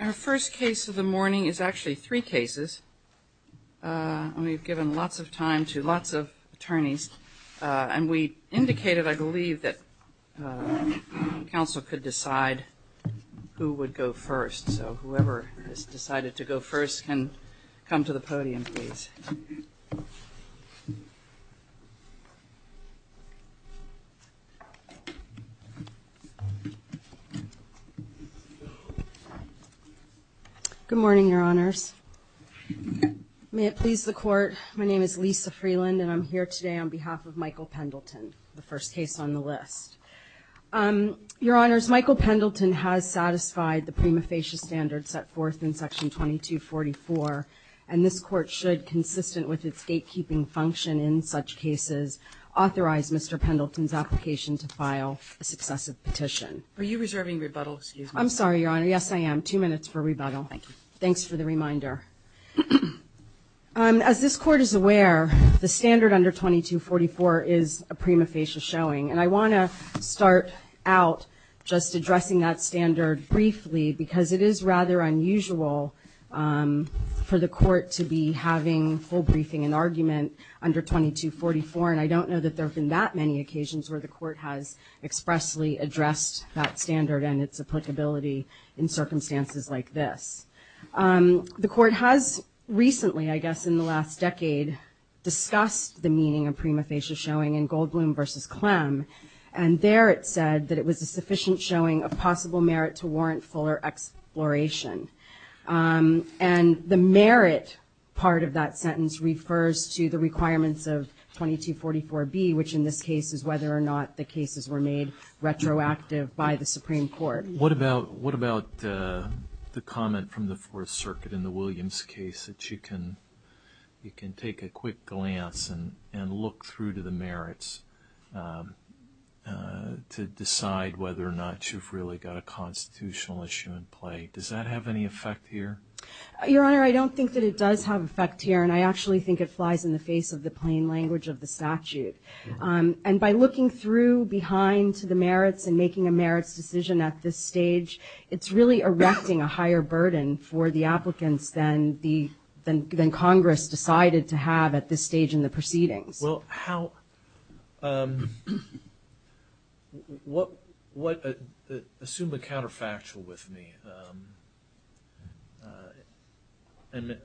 Our first case of the morning is actually three cases, and we've given lots of time to lots of attorneys, and we indicated, I believe, that counsel could decide who would go first. So whoever has decided to go first can come to the podium, please. Good morning, Your Honors. May it please the Court, my name is Lisa Freeland, and I'm here today on behalf of Michael Pendleton, the first case on the list. Your Honors, Michael Pendleton has satisfied the prima facie standards set forth in Section 2244, and this Court should, consistent with its gatekeeping function in such cases, authorize Mr. Pendleton's application to file a successive petition. Are you reserving rebuttal, excuse me? I'm sorry, Your Honor. Yes, I am. Two minutes for rebuttal. Thanks for the reminder. As this Court is aware, the standard under 2244 is a prima facie showing, and I want to start out just addressing that standard briefly because it is rather unusual for the Court to be having a whole briefing and argument under 2244, and I don't know that there have been that many occasions where the Court has expressly addressed that standard and its applicability in circumstances like this. The Court has recently, I guess in the last decade, discussed the meaning of prima facie showing in Goldbloom v. Clem, and there it said that it was a sufficient showing of possible merit to warrant fuller exploration. And the merit part of that sentence refers to the requirements of 2244B, which in this case is whether or not the cases were made retroactive by the Supreme Court. What about the comment from the Fourth Circuit in the Williams case that you can take a quick glance and look through to the merits to decide whether or not you've really got a constitutional issue in play? Does that have any effect here? Your Honor, I don't think that it does have effect here, and I actually think it flies in the face of the plain language of the statute. And by looking through behind to the merits and making a merits decision at this stage, it's really erecting a higher burden for the applicants than Congress decided to have at this stage in the proceedings. Assume the counterfactual with me, and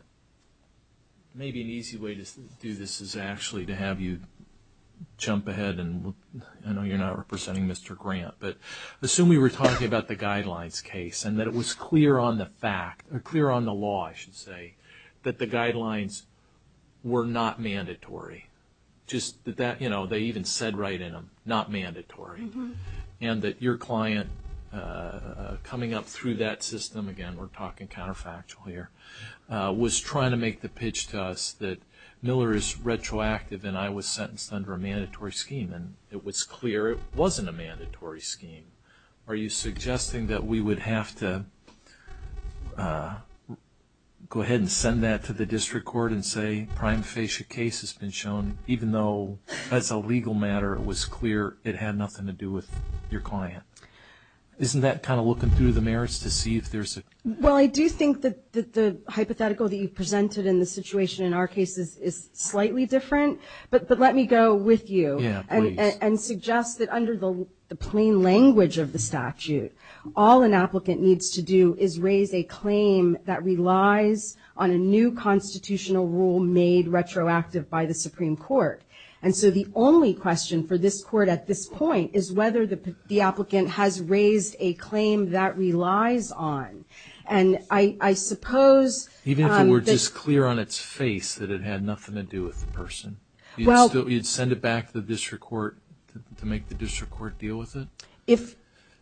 maybe an easy way to do this is actually to have you jump ahead, and I know you're not representing Mr. Grant, but assume we were talking about the guidelines case and that it was clear on the fact, or clear on the law, I should say, that the guidelines were not mandatory. Just that that, you know, they even said right in them, not mandatory. And that your client coming up through that system, again, we're talking counterfactual here, was trying to make the pitch to us that Miller is retroactive and I was sentenced under a mandatory scheme. And it was clear it wasn't a mandatory scheme. Are you suggesting that we would have to go ahead and send that to the district court and say prime facie case has been shown, even though that's a legal matter, it was clear it had nothing to do with your client? Isn't that kind of looking through the merits to see if there's a... Well, I do think that the hypothetical that you presented in the situation in our case is slightly different. But let me go with you and suggest that under the plain language of the statute, all an applicant needs to do is raise a claim that relies on a new constitutional rule made retroactive by the Supreme Court. And so the only question for this court at this point is whether the applicant has raised a claim that relies on. And I suppose... Even if it were just clear on its face that it had nothing to do with the person? Well... You'd send it back to the district court to make the district court deal with it? If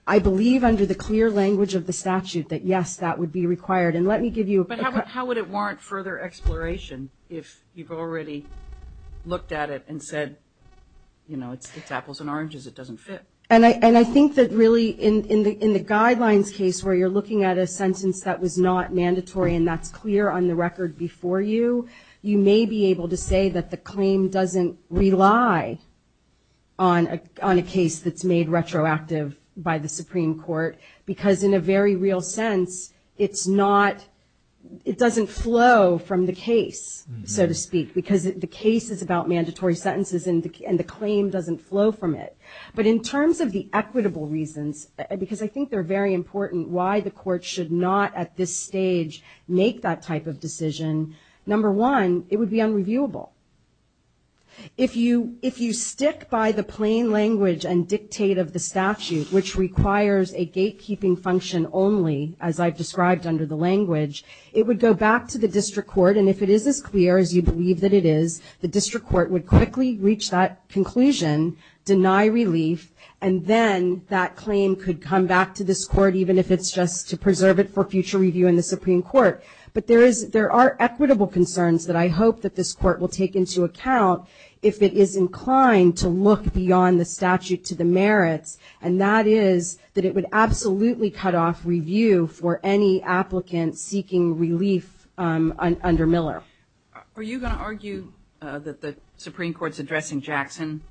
I believe under the clear language of the statute that, yes, that would be required. And let me give you... But how would it warrant further exploration if you've already looked at it and said, you know, it's apples and oranges, it doesn't fit? And I think that really in the guidelines case where you're looking at a sentence that was not mandatory and that's clear on the record before you, you may be able to say that the claim doesn't rely on a case that's made retroactive by the Supreme Court. Because in a very real sense, it's not... It doesn't flow from the case, so to speak. Because the case is about mandatory sentences and the claim doesn't flow from it. But in terms of the equitable reasons, because I think they're very important why the court should not at this stage make that type of decision. Number one, it would be unreviewable. If you stick by the plain language and dictate of the statute, which requires a gatekeeping function only, as I've described under the language, it would go back to the district court. And if it is as clear as you believe that it is, the district court would quickly reach that conclusion, deny relief, and then that claim could come back to this court even if it's just to preserve it for future review in the Supreme Court. But there are equitable concerns that I hope that this court will take into account if it is inclined to look beyond the statute to the merits, and that is that it would absolutely cut off review for any applicant seeking relief under Miller. Are you going to argue that the Supreme Court's address in Jackson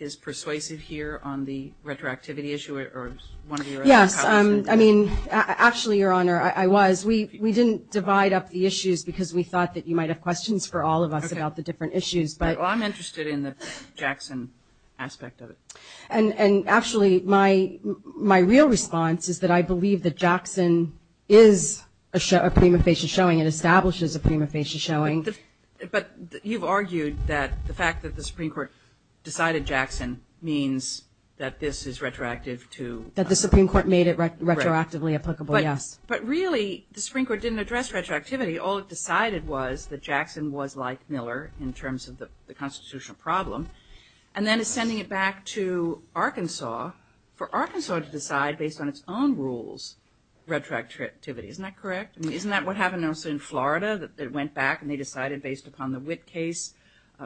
is persuasive here on the retroactivity issue or one of your other comments? I mean, actually, Your Honor, I was. We didn't divide up the issues because we thought that you might have questions for all of us about the different issues. Well, I'm interested in the Jackson aspect of it. And actually, my real response is that I believe that Jackson is a prima facie showing. It establishes a prima facie showing. But you've argued that the fact that the Supreme Court decided Jackson means that this is retroactive to – That the Supreme Court made it retroactively applicable, yes. But really, the Supreme Court didn't address retroactivity. All it decided was that Jackson was like Miller in terms of the constitutional problem. And then it's sending it back to Arkansas for Arkansas to decide based on its own rules retroactivity. Isn't that correct? I mean, isn't that what happened also in Florida that it went back and they decided based upon the Witt case?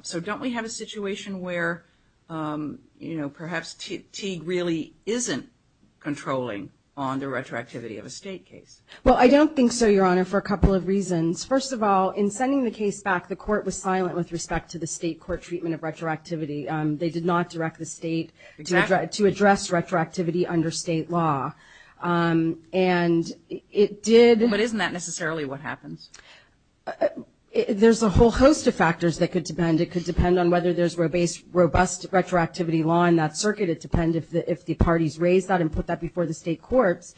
So don't we have a situation where, you know, perhaps Teague really isn't controlling on the retroactivity of a state case? Well, I don't think so, Your Honor, for a couple of reasons. First of all, in sending the case back, the court was silent with respect to the state court treatment of retroactivity. They did not direct the state to address retroactivity under state law. And it did – But isn't that necessarily what happens? There's a whole host of factors that could depend. It could depend on whether there's robust retroactivity law in that circuit. It depends if the parties raise that and put that before the state court.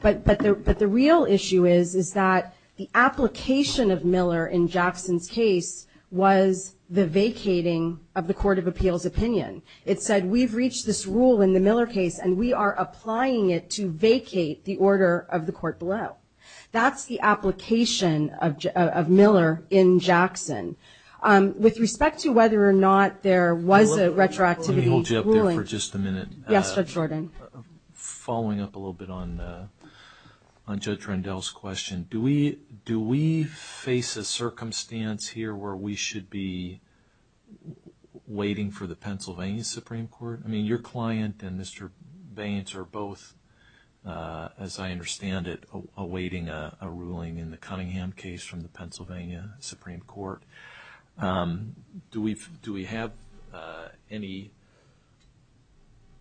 But the real issue is that the application of Miller in Jackson's case was the vacating of the court of appeals opinion. It said we've reached this rule in the Miller case, and we are applying it to vacate the order of the court below. That's the application of Miller in Jackson. With respect to whether or not there was a retroactivity ruling – Let me hold you up there for just a minute. Yes, Judge Jordan. Following up a little bit on Judge Rendell's question, do we face a circumstance here where we should be waiting for the Pennsylvania Supreme Court? I mean, your client and Mr. Baines are both, as I understand it, awaiting a ruling in the Cunningham case from the Pennsylvania Supreme Court. Do we have any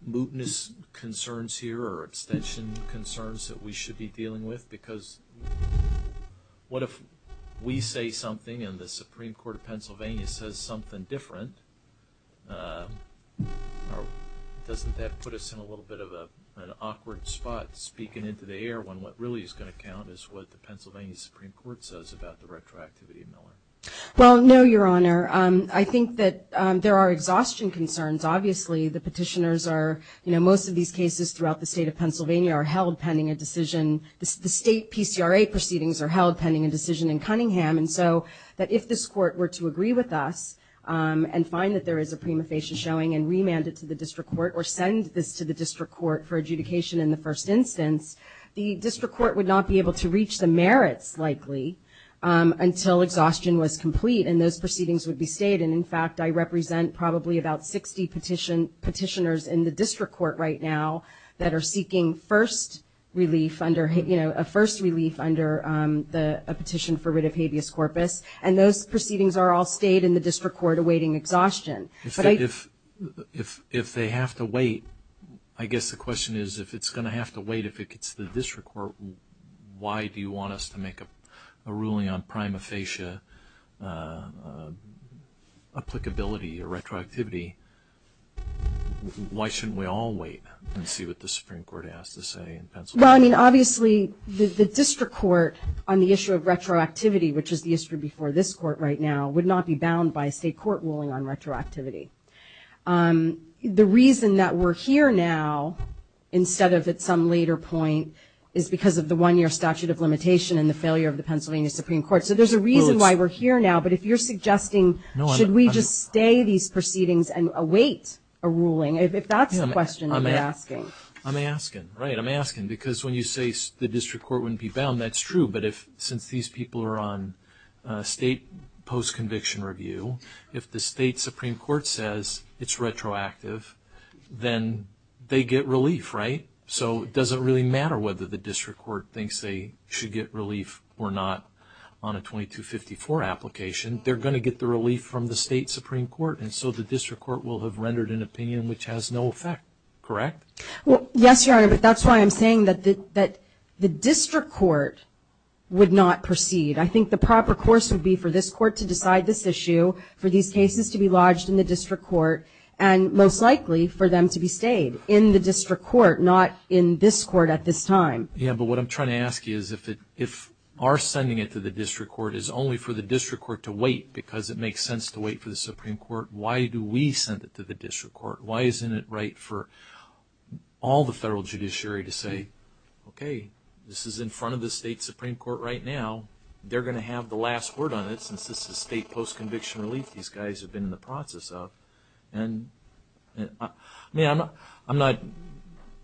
mootness concerns here or abstention concerns that we should be dealing with? Because what if we say something and the Supreme Court of Pennsylvania says something different? Doesn't that put us in a little bit of an awkward spot, speaking into the air, when what really is going to count is what the Pennsylvania Supreme Court says about the retroactivity of Miller? Well, no, Your Honor. I think that there are exhaustion concerns. Obviously, the petitioners are – you know, most of these cases throughout the state of Pennsylvania are held pending a decision. The state PCRA proceedings are held pending a decision in Cunningham. And so if this court were to agree with us and find that there is a prima facie showing and remand it to the district court or send this to the district court for adjudication in the first instance, the district court would not be able to reach the merits, likely, until exhaustion was complete, and those proceedings would be stayed. And, in fact, I represent probably about 60 petitioners in the district court right now that are seeking first relief under – you know, a first relief under a petition for writ of habeas corpus. And those proceedings are all stayed in the district court awaiting exhaustion. If they have to wait, I guess the question is if it's going to have to wait if it gets to the district court, why do you want us to make a ruling on prima facie applicability or retroactivity? Why shouldn't we all wait and see what the Supreme Court has to say in Pennsylvania? Well, I mean, obviously, the district court on the issue of retroactivity, which is the history before this court right now, would not be bound by a state court ruling on retroactivity. The reason that we're here now instead of at some later point is because of the one-year statute of limitation and the failure of the Pennsylvania Supreme Court. So there's a reason why we're here now. But if you're suggesting should we just stay these proceedings and await a ruling, if that's the question you're asking. I'm asking, right. I'm asking because when you say the district court wouldn't be bound, that's true. But since these people are on state post-conviction review, if the state Supreme Court says it's retroactive, then they get relief, right? So it doesn't really matter whether the district court thinks they should get relief or not on a 2254 application. They're going to get the relief from the state Supreme Court, and so the district court will have rendered an opinion which has no effect, correct? Well, yes, Your Honor, but that's why I'm saying that the district court would not proceed. I think the proper course would be for this court to decide this issue, for these cases to be lodged in the district court, and most likely for them to be stayed in the district court, not in this court at this time. Yeah, but what I'm trying to ask you is if our sending it to the district court is only for the district court to wait because it makes sense to wait for the Supreme Court, why do we send it to the district court? Why isn't it right for all the federal judiciary to say, okay, this is in front of the state Supreme Court right now. They're going to have the last word on it since this is state post-conviction relief these guys have been in the process of. And, I mean, I'm not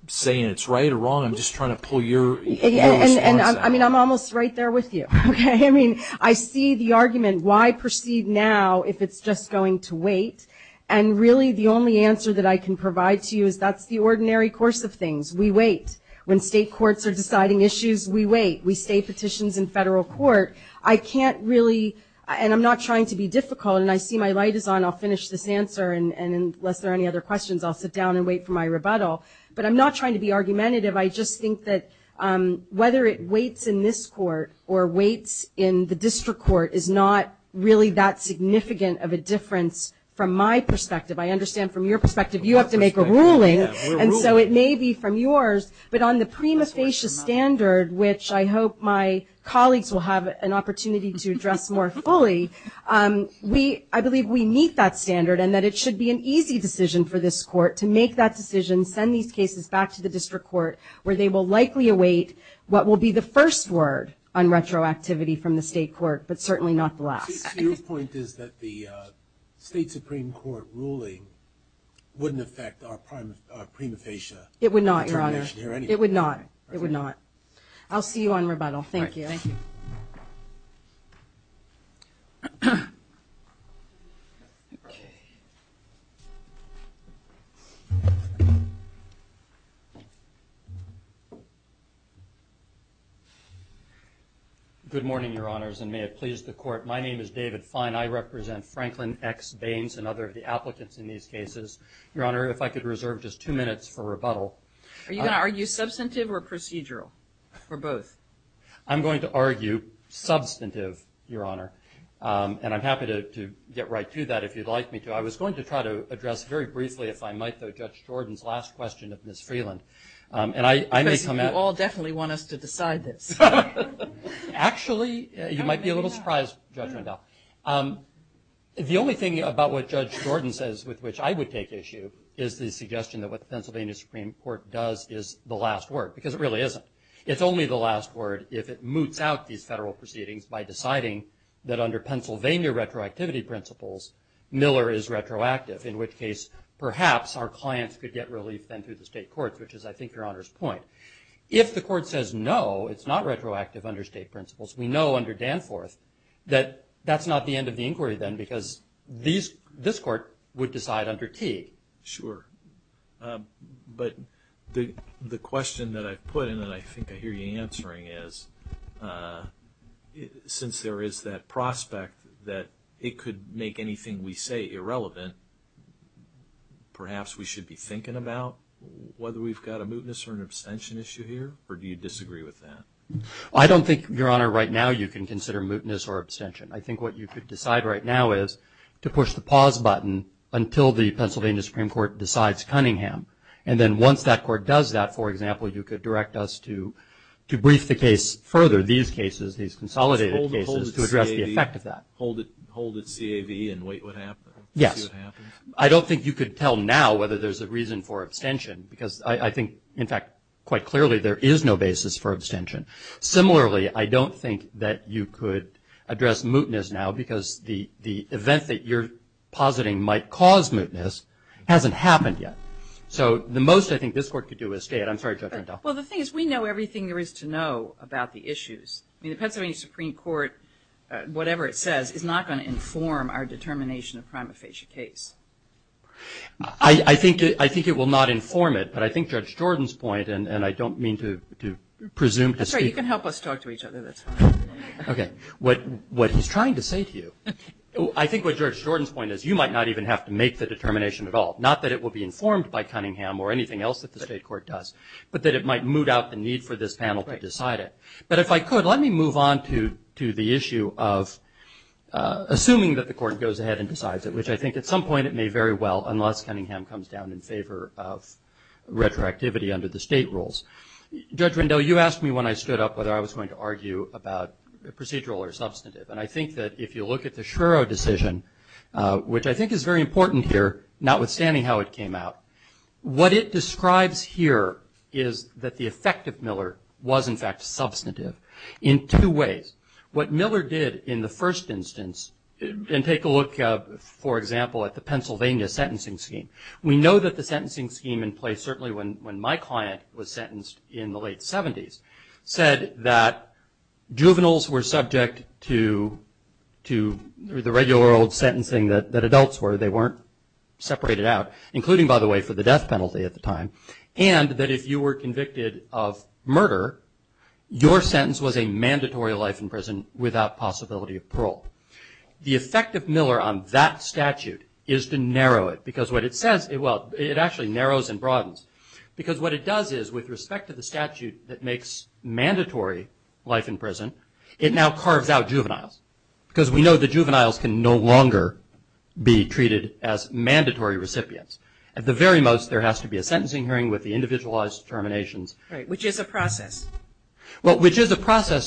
saying it's right or wrong. I'm just trying to pull your views. I mean, I'm almost right there with you. I mean, I see the argument why proceed now if it's just going to wait, and really the only answer that I can provide to you is that's the ordinary course of things. We wait. When state courts are deciding issues, we wait. We say petitions in federal court. I can't really, and I'm not trying to be difficult, and I see my light is on. I'll finish this answer, and unless there are any other questions, I'll sit down and wait for my rebuttal. But I'm not trying to be argumentative. I just think that whether it waits in this court or waits in the district court is not really that significant of a difference from my perspective. I understand from your perspective you have to make a ruling, and so it may be from yours. But on the prima facie standard, which I hope my colleagues will have an opportunity to address more fully, I believe we meet that standard and that it should be an easy decision for this court to make that decision, send these cases back to the district court, where they will likely await what will be the first word on retroactivity from the state court, but certainly not the last. Your point is that the state supreme court ruling wouldn't affect our prima facie. It would not, Your Honor. It would not. It would not. Thank you. Thank you. Thank you. Good morning, Your Honors, and may it please the court. My name is David Fine. I represent Franklin X. Baines and other of the applicants in these cases. Your Honor, if I could reserve just two minutes for rebuttal. Are you going to argue substantive or procedural or both? I'm going to argue substantive, Your Honor, and I'm happy to get right to that if you'd like me to. I was going to try to address very briefly, if I might, Judge Jordan's last question of Ms. Freeland. You all definitely want us to decide this. Actually, you might be a little surprised, Judge Randolph. The only thing about what Judge Jordan says with which I would take issue is the suggestion that what the Pennsylvania Supreme Court does is the last word, because it really isn't. It's only the last word if it moots out these federal proceedings by deciding that under Pennsylvania retroactivity principles, Miller is retroactive, in which case perhaps our clients could get relief then through the state courts, which is, I think, Your Honor's point. If the court says no, it's not retroactive under state principles, we know under Danforth that that's not the end of the inquiry then because this court would decide under T. Sure. But the question that I put in and I think I hear you answering is, since there is that prospect that it could make anything we say irrelevant, perhaps we should be thinking about whether we've got a mootness or an abstention issue here, or do you disagree with that? I don't think, Your Honor, right now you can consider mootness or abstention. I think what you could decide right now is to push the pause button until the Pennsylvania Supreme Court decides Cunningham, and then once that court does that, for example, you could direct us to brief the case further, these cases, these consolidated cases, to address the effect of that. Hold its GAV and wait what happens? Yes. I don't think you could tell now whether there's a reason for abstention because I think, in fact, quite clearly there is no basis for abstention. Similarly, I don't think that you could address mootness now because the event that you're positing might cause mootness hasn't happened yet. So the most I think this court could do is say it. I'm sorry, Judge Randolph. Well, the thing is we know everything there is to know about the issues. I mean, the Pennsylvania Supreme Court, whatever it says, is not going to inform our determination of prima facie case. I think it will not inform it, but I think Judge Jordan's point, and I don't mean to presume... I'm sorry, you can help us talk to each other. Okay. What he's trying to say to you, I think what Judge Jordan's point is you might not even have to make the determination at all, not that it will be informed by Cunningham or anything else that the state court does, but that it might moot out the need for this panel to decide it. But if I could, let me move on to the issue of assuming that the court goes ahead and decides it, which I think at some point it may very well unless Cunningham comes down in favor of retroactivity under the state rules. Judge Rendell, you asked me when I stood up whether I was going to argue about procedural or substantive, and I think that if you look at the Shuro decision, which I think is very important here, notwithstanding how it came out, what it describes here is that the effect of Miller was, in fact, substantive in two ways. What Miller did in the first instance, and take a look, for example, at the Pennsylvania sentencing scheme, we know that the sentencing scheme in place, certainly when my client was sentenced in the late 70s, said that juveniles were subject to the regular old sentencing that adults were. They weren't separated out, including, by the way, for the death penalty at the time, and that if you were convicted of murder, your sentence was a mandatory life in prison without possibility of parole. The effect of Miller on that statute is to narrow it, because what it says, well, it actually narrows and broadens, because what it does is with respect to the statute that makes mandatory life in prison, it now carved out juveniles, because we know that juveniles can no longer be treated as mandatory recipients. At the very most, there has to be a sentencing hearing with the individualized terminations. Which is a process. Yes,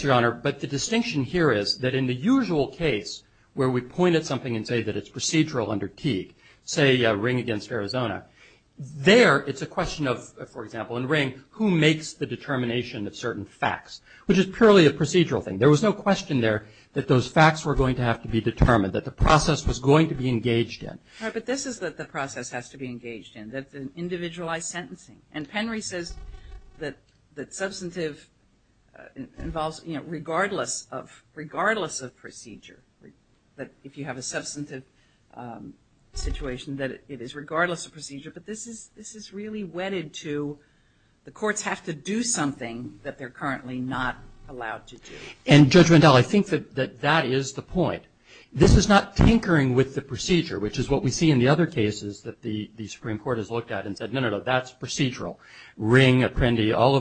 Your Honor. But the distinction here is that in the usual case where we point at something and say that it's procedural under key, say Ring against Arizona, there it's a question of, for example, in Ring, who makes the determination of certain facts, which is purely a procedural thing. There was no question there that those facts were going to have to be determined, that the process was going to be engaged in. But this is what the process has to be engaged in, that's an individualized sentencing. And Penry says that substantive involves, you know, regardless of procedure. That if you have a substantive situation, that it is regardless of procedure. But this is really wedded to the courts have to do something that they're currently not allowed to do. And, Judge Mendel, I think that that is the point. This is not tinkering with the procedure, which is what we see in the other cases that the Supreme Court has looked at and said, no, no, no, that's procedural. Ring, Apprendi, all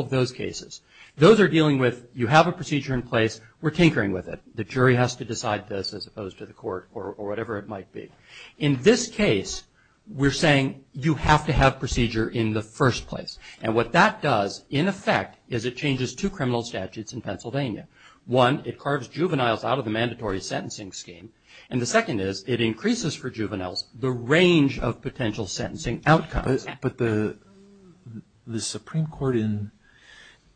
of those cases. Those are dealing with you have a procedure in place, we're tinkering with it. The jury has to decide this as opposed to the court or whatever it might be. In this case, we're saying you have to have procedure in the first place. And what that does, in effect, is it changes two criminal statutes in Pennsylvania. One, it carves juveniles out of the mandatory sentencing scheme. And the second is, it increases for juveniles the range of potential sentencing outcomes. But the Supreme Court in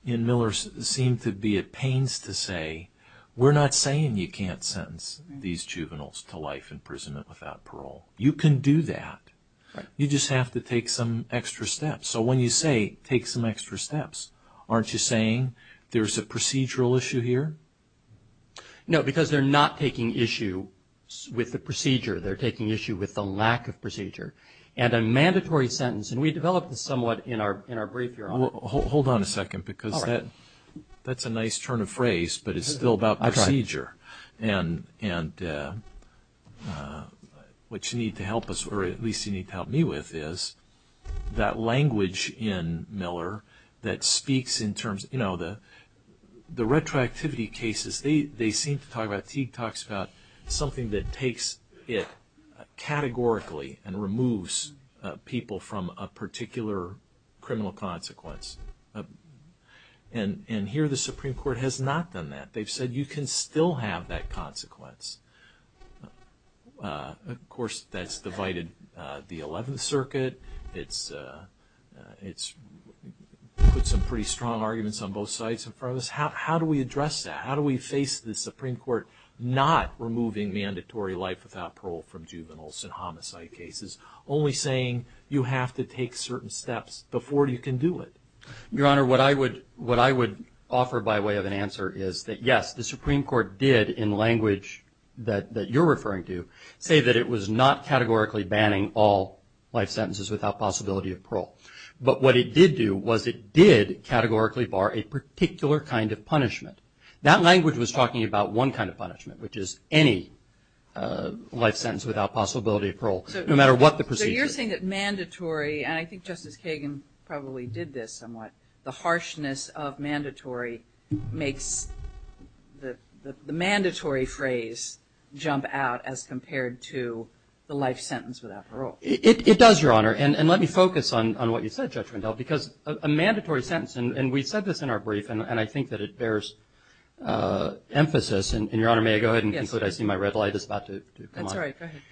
Miller seemed to be at pains to say, we're not saying you can't sentence these juveniles to life imprisonment without parole. You can do that. You just have to take some extra steps. So when you say take some extra steps, aren't you saying there's a procedural issue here? No, because they're not taking issue with the procedure. They're taking issue with the lack of procedure. And a mandatory sentence, and we developed this somewhat in our brief here. Hold on a second, because that's a nice turn of phrase, but it's still about procedure. And what you need to help us, or at least you need to help me with, is that language in Miller that speaks in terms of, you know, the retroactivity cases, they seem to talk about, Teague talks about something that takes it categorically and removes people from a particular criminal consequence. And here the Supreme Court has not done that. Of course, that's divided the 11th Circuit. It's put some pretty strong arguments on both sides in front of us. How do we address that? How do we face the Supreme Court not removing mandatory life without parole from juveniles in homicide cases, only saying you have to take certain steps before you can do it? Your Honor, what I would offer by way of an answer is that, yes, the Supreme Court did, in language that you're referring to, say that it was not categorically banning all life sentences without possibility of parole. But what it did do was it did categorically bar a particular kind of punishment. That language was talking about one kind of punishment, which is any life sentence without possibility of parole, no matter what the procedure is. So you're saying that mandatory, and I think Justice Kagan probably did this somewhat, the harshness of mandatory makes the mandatory phrase jump out as compared to the life sentence without parole. It does, Your Honor. And let me focus on what you said, Judge Rendell, because a mandatory sentence, and we said this in our brief, and I think that it bears emphasis. And, Your Honor, may I go ahead and conclude? I see my red light is about to come on. That's all right. Go ahead.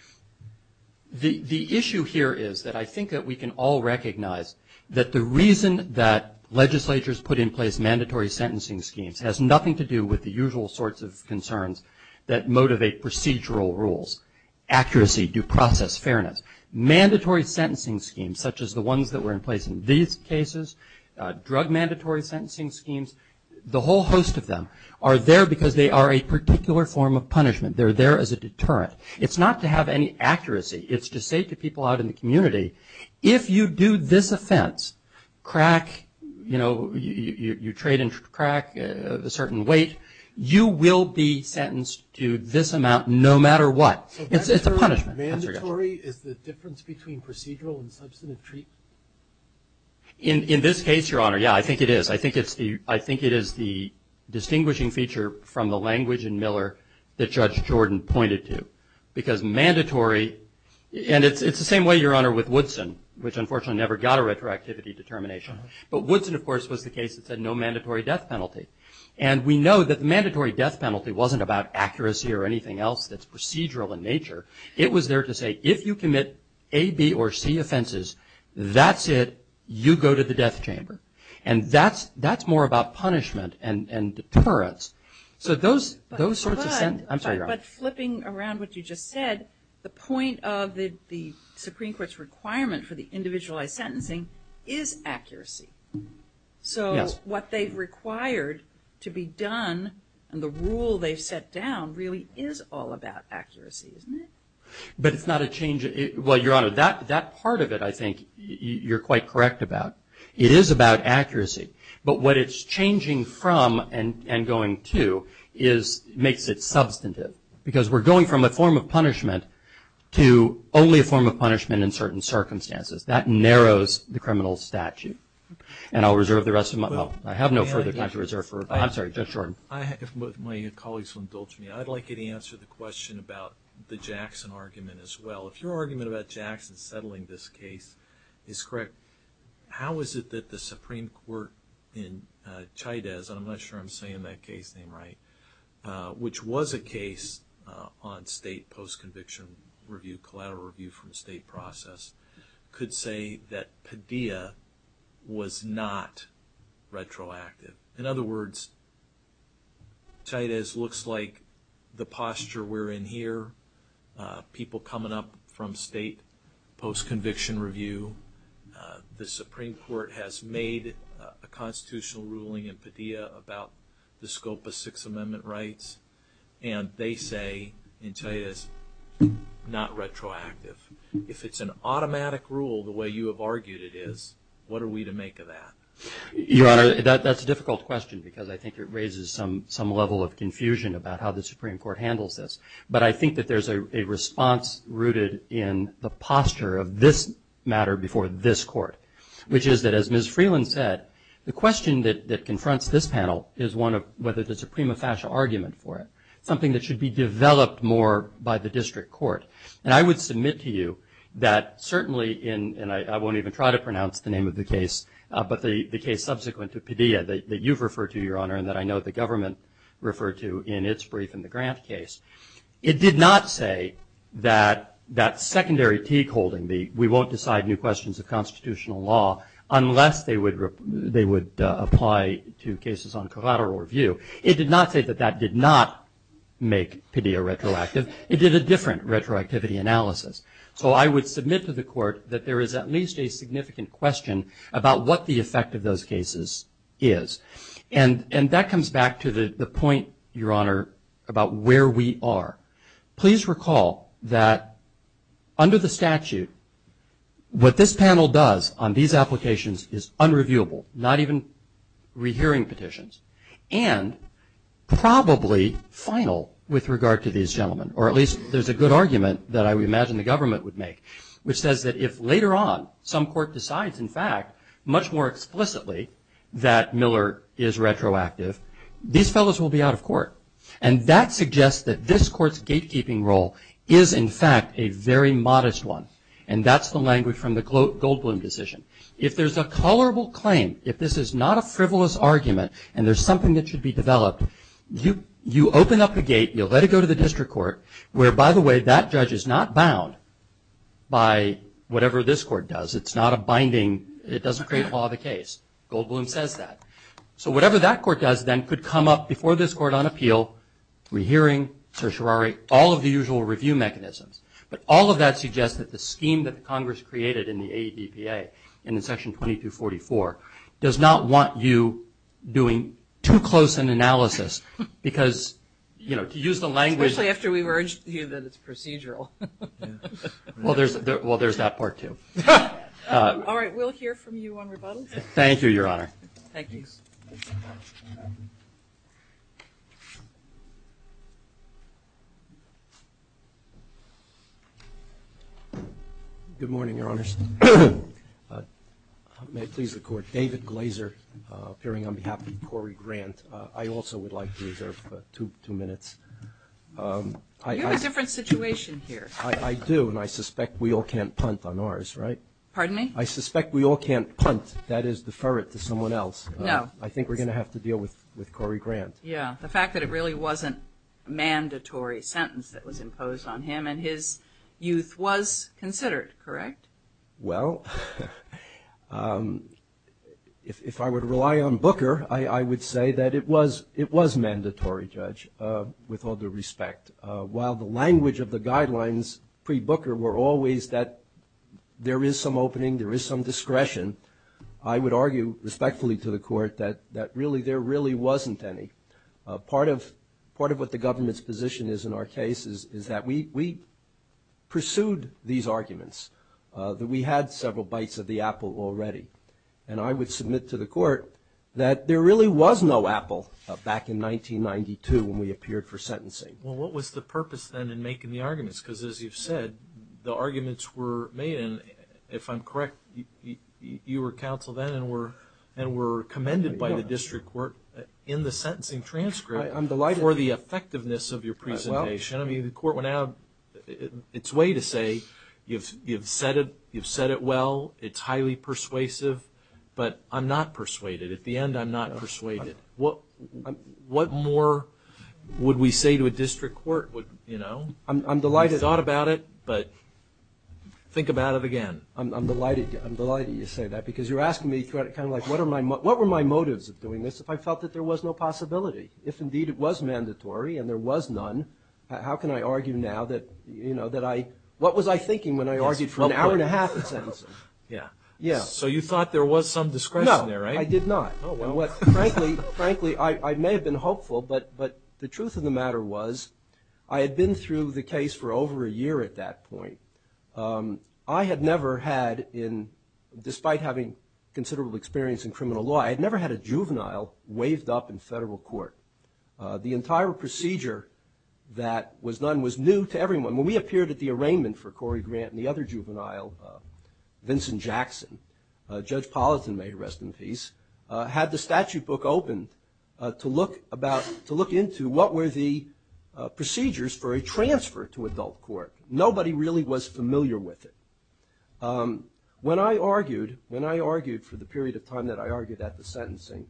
The issue here is that I think that we can all recognize that the reason that legislatures put in place mandatory sentencing schemes has nothing to do with the usual sorts of concerns that motivate procedural rules, accuracy, due process, fairness. Mandatory sentencing schemes, such as the ones that were in place in these cases, drug mandatory sentencing schemes, the whole host of them, are there because they are a particular form of punishment. They're there as a deterrent. It's not to have any accuracy. It's to say to people out in the community, if you do this offense, crack, you know, you trade and crack a certain weight, you will be sentenced to this amount no matter what. It's a punishment. Mandatory is the difference between procedural and substantive treatment. In this case, Your Honor, yeah, I think it is. I think it is the distinguishing feature from the language in Miller that Judge Jordan pointed to. Because mandatory, and it's the same way, Your Honor, with Woodson, which unfortunately never got a retroactivity determination. But Woodson, of course, was the case that said no mandatory death penalty. And we know that mandatory death penalty wasn't about accuracy or anything else that's procedural in nature. It was there to say if you commit A, B, or C offenses, that's it, you go to the death chamber. And that's more about punishment and deterrence. So those sorts of things. I'm sorry, Your Honor. But flipping around what you just said, the point of the Supreme Court's requirement for the individualized sentencing is accuracy. So what they required to be done and the rule they set down really is all about accuracy, isn't it? But it's not a change. Well, Your Honor, that part of it I think you're quite correct about. It is about accuracy. But what it's changing from and going to is makes it substantive. Because we're going from a form of punishment to only a form of punishment in certain circumstances. That narrows the criminal statute. And I'll reserve the rest of my time. I have no further time to reserve. I'm sorry, Judge Jordan. If my colleagues will indulge me, I'd like you to answer the question about the Jackson argument as well. If your argument about Jackson settling this case is correct, how is it that the Supreme Court in Chaydez, and I'm not sure I'm saying that case name right, which was a case on state post-conviction review, collateral review from the state process, could say that Padilla was not retroactive? In other words, Chaydez looks like the posture we're in here, people coming up from state post-conviction review. The Supreme Court has made a constitutional ruling in Padilla about the scope of Sixth Amendment rights. And they say in Chaydez, not retroactive. If it's an automatic rule the way you have argued it is, what are we to make of that? Your Honor, that's a difficult question because I think it raises some level of confusion about how the Supreme Court handles this. But I think that there's a response rooted in the posture of this matter before this court, which is that as Ms. Freeland said, the question that confronts this panel is whether there's a prima facie argument for it, something that should be developed more by the district court. And I would submit to you that certainly in, and I won't even try to pronounce the name of the case, but the case subsequent to Padilla that you've referred to, Your Honor, and that I know the government referred to in its brief in the Grant case, it did not say that secondary teak holding, we won't decide new questions of constitutional law, unless they would apply to cases on collateral review. It did not say that that did not make Padilla retroactive. It did a different retroactivity analysis. So I would submit to the court that there is at least a significant question about what the effect of those cases is. And that comes back to the point, Your Honor, about where we are. Please recall that under the statute, what this panel does on these applications is unreviewable, not even rehearing petitions, and probably final with regard to these gentlemen, or at least there's a good argument that I would imagine the government would make, which says that if later on some court decides, in fact, much more explicitly that Miller is retroactive, these fellows will be out of court. And that suggests that this court's gatekeeping role is, in fact, a very modest one. And that's the language from the Goldblum decision. If there's a colorable claim, if this is not a frivolous argument, and there's something that should be developed, you open up the gate, you let it go to the district court, where, by the way, that judge is not bound by whatever this court does. It's not a binding, it doesn't create law of the case. Goldblum says that. So whatever that court does then could come up before this court on appeal, rehearing, certiorari, all of the usual review mechanisms. But all of that suggests that the scheme that Congress created in the ADPA, in the section 2244, does not want you doing too close an analysis because, you know, to use the language. Especially after we've urged you that it's procedural. Well, there's that part, too. All right, we'll hear from you on rebuttal. Thank you, Your Honor. Thank you. Good morning, Your Honor. May it please the Court, David Glazer, appearing on behalf of Corey Grant. I also would like to reserve two minutes. You have a different situation here. I do, and I suspect we all can't punt on ours, right? Pardon me? I suspect we all can't punt, that is defer it to someone else. No. I think we're going to have to deal with Corey Grant. Yeah, the fact that it really wasn't a mandatory sentence that was imposed on him and his youth was considered, correct? Well, if I were to rely on Booker, I would say that it was mandatory, Judge, with all due respect. While the language of the guidelines pre-Booker were always that there is some opening, there is some discretion, I would argue respectfully to the Court that there really wasn't any. Part of what the government's position is in our case is that we pursued these arguments, that we had several bites of the apple already, and I would submit to the Court that there really was no apple back in 1992 when we appeared for sentencing. Well, what was the purpose then in making the arguments? Because as you've said, the arguments were made, and if I'm correct, you were counsel then and were commended by the District Court in the sentencing transcript. I'm delighted. Or the effectiveness of your presentation. I mean, the Court went out its way to say you've said it well, it's highly persuasive, but I'm not persuaded. At the end, I'm not persuaded. What more would we say to a District Court, you know? I'm delighted. We thought about it, but think about it again. I'm delighted you say that, because you're asking me kind of like, what were my motives of doing this if I felt that there was no possibility? If indeed it was mandatory and there was none, how can I argue now that I – what was I thinking when I argued for an hour and a half in sentencing? Yeah. Yeah. So you thought there was some discretion there, right? No, I did not. Frankly, I may have been hopeful, but the truth of the matter was, I had been through the case for over a year at that point. I had never had in – despite having considerable experience in criminal law, I had never had a juvenile waived up in federal court. The entire procedure that was done was new to everyone. When we appeared at the arraignment for Corey Grant and the other juvenile, Vincent Jackson, Judge Politon may rest in peace, had the statute book open to look about – to look into what were the procedures for a transfer to adult court. Nobody really was familiar with it. When I argued, when I argued for the period of time that I argued at the sentencing,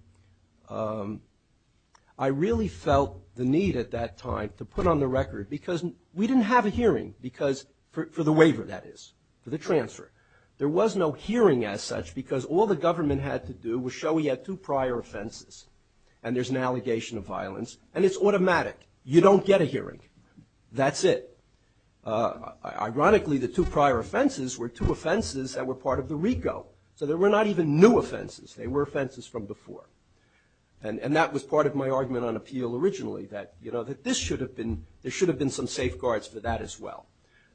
I really felt the need at that time to put on the record, because we didn't have a hearing, because – for the waiver, that is, for the transfer. There was no hearing as such because all the government had to do was show we had two prior offenses and there's an allegation of violence, and it's automatic. You don't get a hearing. That's it. Ironically, the two prior offenses were two offenses that were part of the RICO, so they were not even new offenses. They were offenses from before. And that was part of my argument on appeal originally, that, you know, that this should have been – there should have been some safeguards for that as well.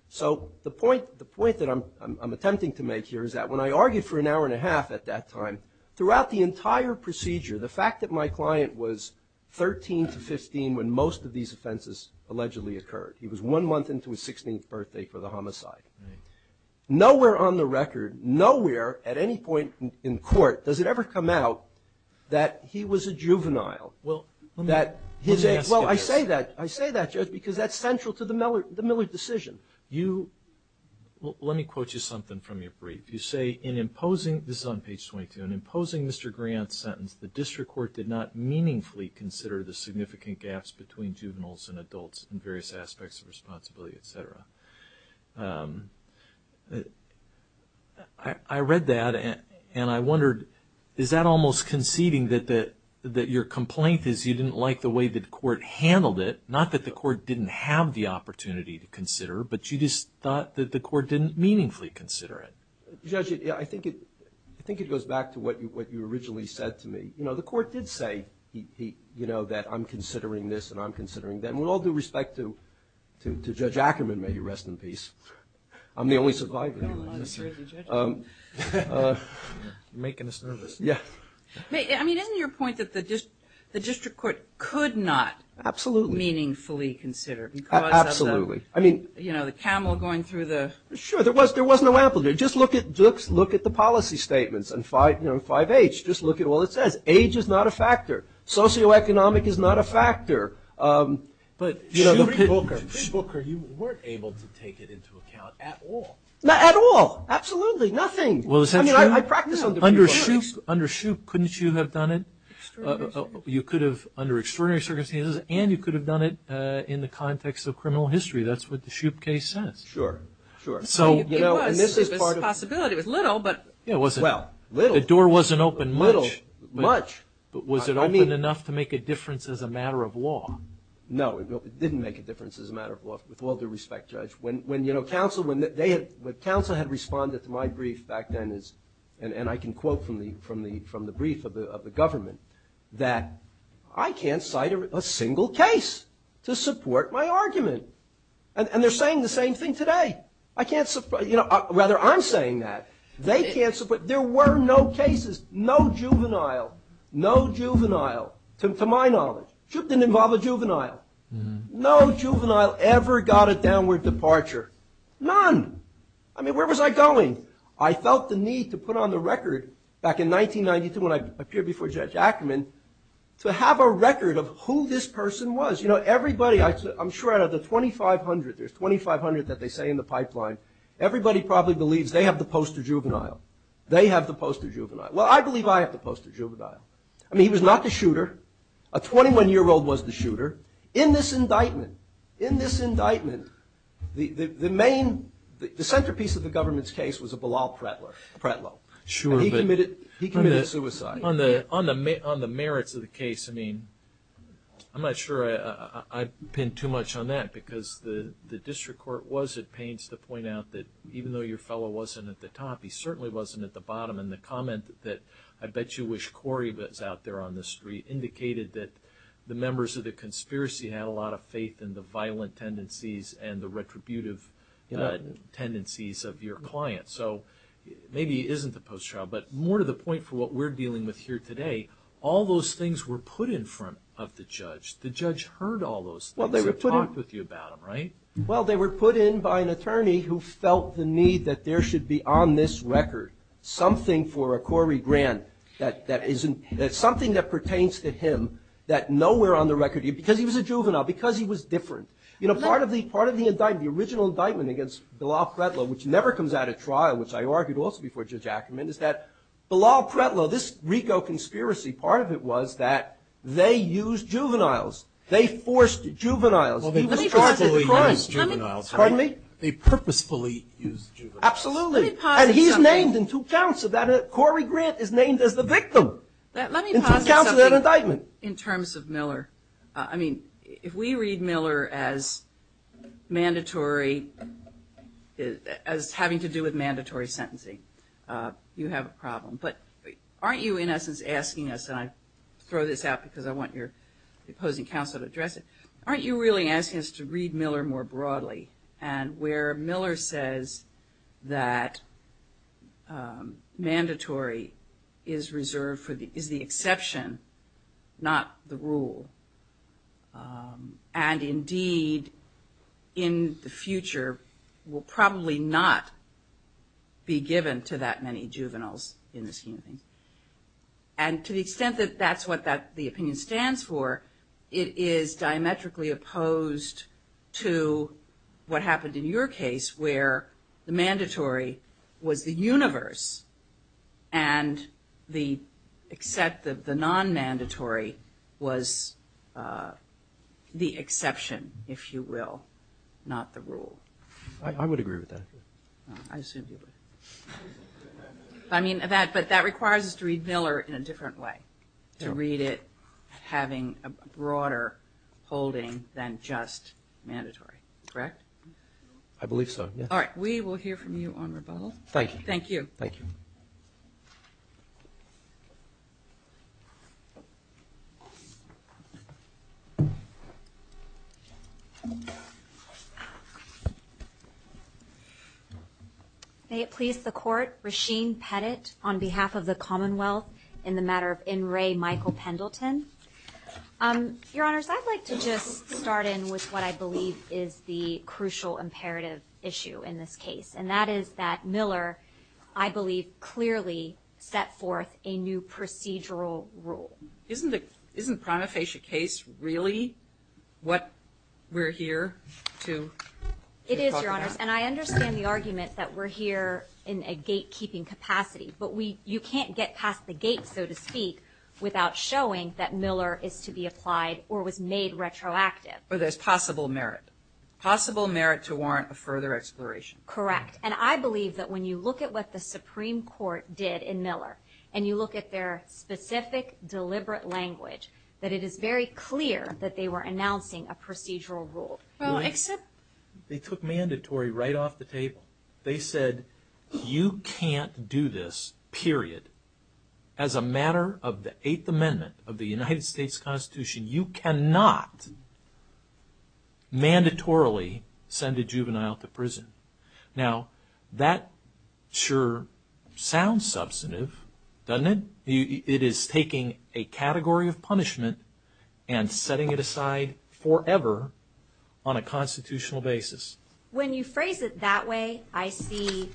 So the point that I'm attempting to make here is that when I argued for an hour and a half at that time, throughout the entire procedure, the fact that my client was 13 to 15 when most of these offenses allegedly occurred. He was one month into his 16th birthday for the homicide. Nowhere on the record, nowhere at any point in court does it ever come out that he was a juvenile. Well, let me just ask you. Well, I say that. I say that just because that's central to the Miller decision. You – let me quote you something from your brief. You say, in imposing – this is on page 22 – in imposing Mr. Grant's sentence, the district court did not meaningfully consider the significant gaps between juveniles and adults in various aspects of responsibility, et cetera. I read that, and I wondered, is that almost conceding that your complaint is you didn't like the way the court handled it, not that the court didn't have the opportunity to consider, but you just thought that the court didn't meaningfully consider it? Judge, I think it goes back to what you originally said to me. You know, the court did say, you know, that I'm considering this and I'm considering that. And with all due respect to Judge Ackerman, may he rest in peace, I'm the only survivor. You're making us nervous. I mean, isn't your point that the district court could not meaningfully consider? Absolutely. You know, the camel going through the – Sure, there was no amplitude. Just look at the policy statements and 5H. Just look at what it says. Age is not a factor. Socioeconomic is not a factor. But, you know, the – You weren't able to take it into account at all. Not at all. Absolutely. Nothing. Well, is that true? Under Shoup, couldn't you have done it? You could have under extraordinary circumstances, and you could have done it in the context of criminal history. That's what the Shoup case says. Sure, sure. So, you know, and this is part of – There's a possibility. It was little, but – Yeah, it wasn't – Well, little. The door wasn't open much. Little, much. Was it open enough to make a difference as a matter of law? No, it didn't make a difference as a matter of law, with all due respect, Judge. When counsel had responded to my brief back then, and I can quote from the brief of the government, that I can't cite a single case to support my argument. And they're saying the same thing today. I can't – Rather, I'm saying that. They can't – There were no cases, no juvenile, no juvenile, to my knowledge. Shoup didn't involve a juvenile. No juvenile ever got a downward departure. None. I mean, where was I going? I felt the need to put on the record, back in 1992 when I appeared before Judge Ackerman, to have a record of who this person was. You know, everybody – I'm sure out of the 2,500, there's 2,500 that they say in the pipeline, everybody probably believes they have to post a juvenile. They have to post a juvenile. I mean, he was not the shooter. A 21-year-old was the shooter. In this indictment, in this indictment, the main – the centerpiece of the government's case was a Bilal Pratlow. And he committed suicide. On the merits of the case, I mean, I'm not sure I'd pin too much on that because the district court was at pains to point out that even though your fellow wasn't at the top, he certainly wasn't at the bottom. And the comment that I bet you wish Corey was out there on the street indicated that the members of the conspiracy had a lot of faith in the violent tendencies and the retributive tendencies of your client. So maybe he isn't the post-trial. But more to the point for what we're dealing with here today, all those things were put in front of the judge. The judge heard all those things. They talked with you about them, right? Well, they were put in by an attorney who felt the need that there should be on this record something for Corey Grant that isn't – something that pertains to him that nowhere on the record – because he was a juvenile, because he was different. You know, part of the indictment, the original indictment against Bilal Pratlow, which never comes out at trial, which I argued also before Judge Ackerman, is that Bilal Pratlow, this RICO conspiracy, part of it was that they used juveniles. They forced juveniles. Well, they purposefully used juveniles. Pardon me? They purposefully used juveniles. Absolutely. And he's named in two counts. Corey Grant is named as the victim in two counts of that indictment. In terms of Miller, I mean, if we read Miller as having to do with mandatory sentencing, you have a problem. But aren't you, in essence, asking us – and I throw this out because I want your opposing counsel to address it – aren't you really asking us to read Miller more broadly and where Miller says that mandatory is the exception, not the rule, and indeed in the future will probably not be given to that many juveniles in this community? And to the extent that that's what the opinion stands for, it is diametrically opposed to what happened in your case where the mandatory was the universe and the non-mandatory was the exception, if you will, not the rule. I would agree with that. I mean, that requires us to read Miller in a different way, to read it having a broader holding than just mandatory. Correct? I believe so, yes. All right. We will hear from you on rebuttal. Thank you. Thank you. Thank you. May it please the Court, Rasheem Pettit on behalf of the Commonwealth in the matter of N. Ray Michael Pendleton. Your Honors, I'd like to just start in with what I believe is the crucial imperative issue in this case, and that is that Miller, I believe, clearly set forth a new procedural rule. Isn't the prima facie case really what we're here to talk about? It is, Your Honors. And I understand the argument that we're here in a gatekeeping capacity, but you can't get past the gate, so to speak, without showing that Miller is to be applied or was made retroactive. Or there's possible merit. Possible merit to warrant a further exploration. Correct. And I believe that when you look at what the Supreme Court did in Miller and you look at their specific deliberate language, that it is very clear that they were announcing a procedural rule. They took mandatory right off the table. They said you can't do this, period. As a matter of the Eighth Amendment of the United States Constitution, you cannot mandatorily send a juvenile to prison. Now, that sure sounds substantive, doesn't it? It is taking a category of punishment and setting it aside forever on a constitutional basis. When you phrase it that way, I see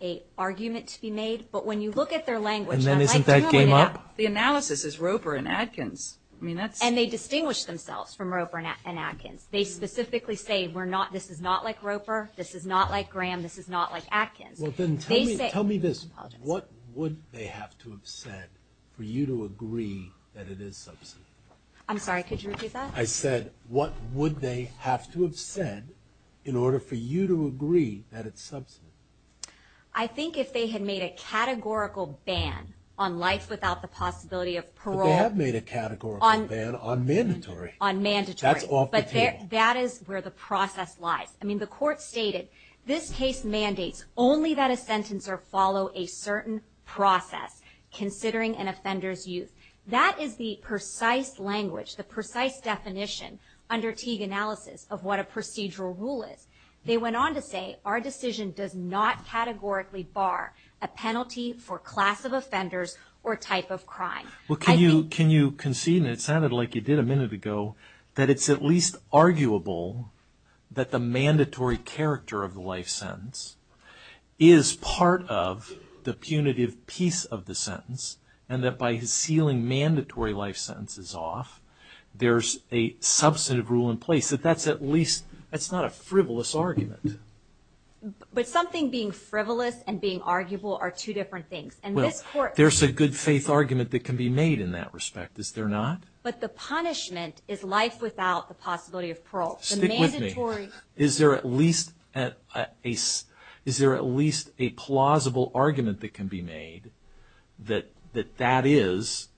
an argument to be made. But when you look at their language, unlike Miller, the analysis is Roper and Atkins. And they distinguish themselves from Roper and Atkins. They specifically say this is not like Roper, this is not like Graham, this is not like Atkins. Well, then tell me this. What would they have to have said for you to agree that it is substantive? I'm sorry, could you repeat that? I said what would they have to have said in order for you to agree that it's substantive? I think if they had made a categorical ban on life without the possibility of parole. But they have made a categorical ban on mandatory. On mandatory. That's off the table. But that is where the process lies. I mean, the court stated this case mandates only that a sentence or follow a certain process considering an offender's use. That is the precise language, the precise definition under Teague analysis of what a procedural rule is. They went on to say our decision does not categorically bar a penalty for class of offenders or type of crime. Can you concede, and it sounded like you did a minute ago, that it's at least arguable that the mandatory character of the life sentence is part of the punitive piece of the sentence and that by sealing mandatory life sentences off, there's a substantive rule in place. That's at least, that's not a frivolous argument. But something being frivolous and being arguable are two different things. There's a good faith argument that can be made in that respect, is there not? But the punishment is life without the possibility of parole. Stick with me. Is there at least a plausible argument that can be made that that is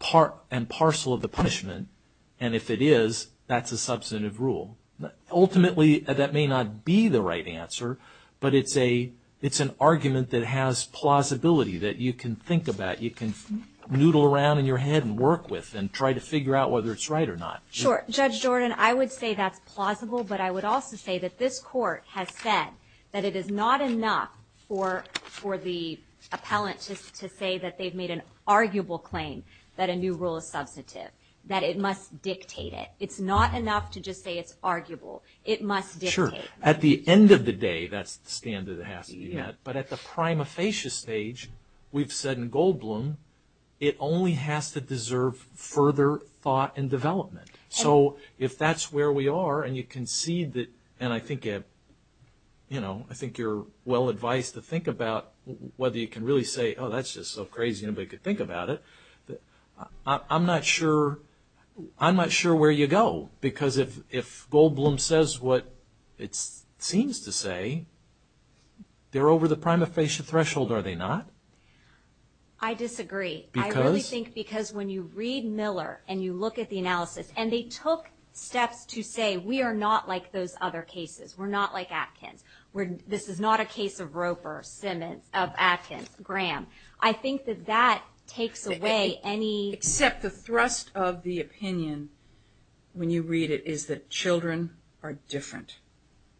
part and parcel of the punishment, and if it is, that's a substantive rule? Ultimately, that may not be the right answer, but it's an argument that has plausibility that you can think about. You can noodle around in your head and work with and try to figure out whether it's right or not. Sure. Judge Jordan, I would say that's plausible, but I would also say that this Court has said that it is not enough for the appellant to say that they've made an arguable claim that a new rule is substantive. That it must dictate it. It's not enough to just say it's arguable. It must dictate it. Sure. At the end of the day, that's the standard that has to be met. But at the prima facie stage, we've said in Goldblum, it only has to deserve further thought and development. So if that's where we are, and you can see that, and I think you're well advised to think about whether you can really say, oh, that's just so crazy, and if they could think about it, I'm not sure where you go. Because if Goldblum says what it seems to say, they're over the prima facie threshold, are they not? I disagree. Because? I think because when you read Miller and you look at the analysis, and they took steps to say we are not like those other cases. We're not like Atkins. This is not a case of Roper, Simmons, of Atkins, Graham. I think that that takes away any – Except the thrust of the opinion when you read it is that children are different.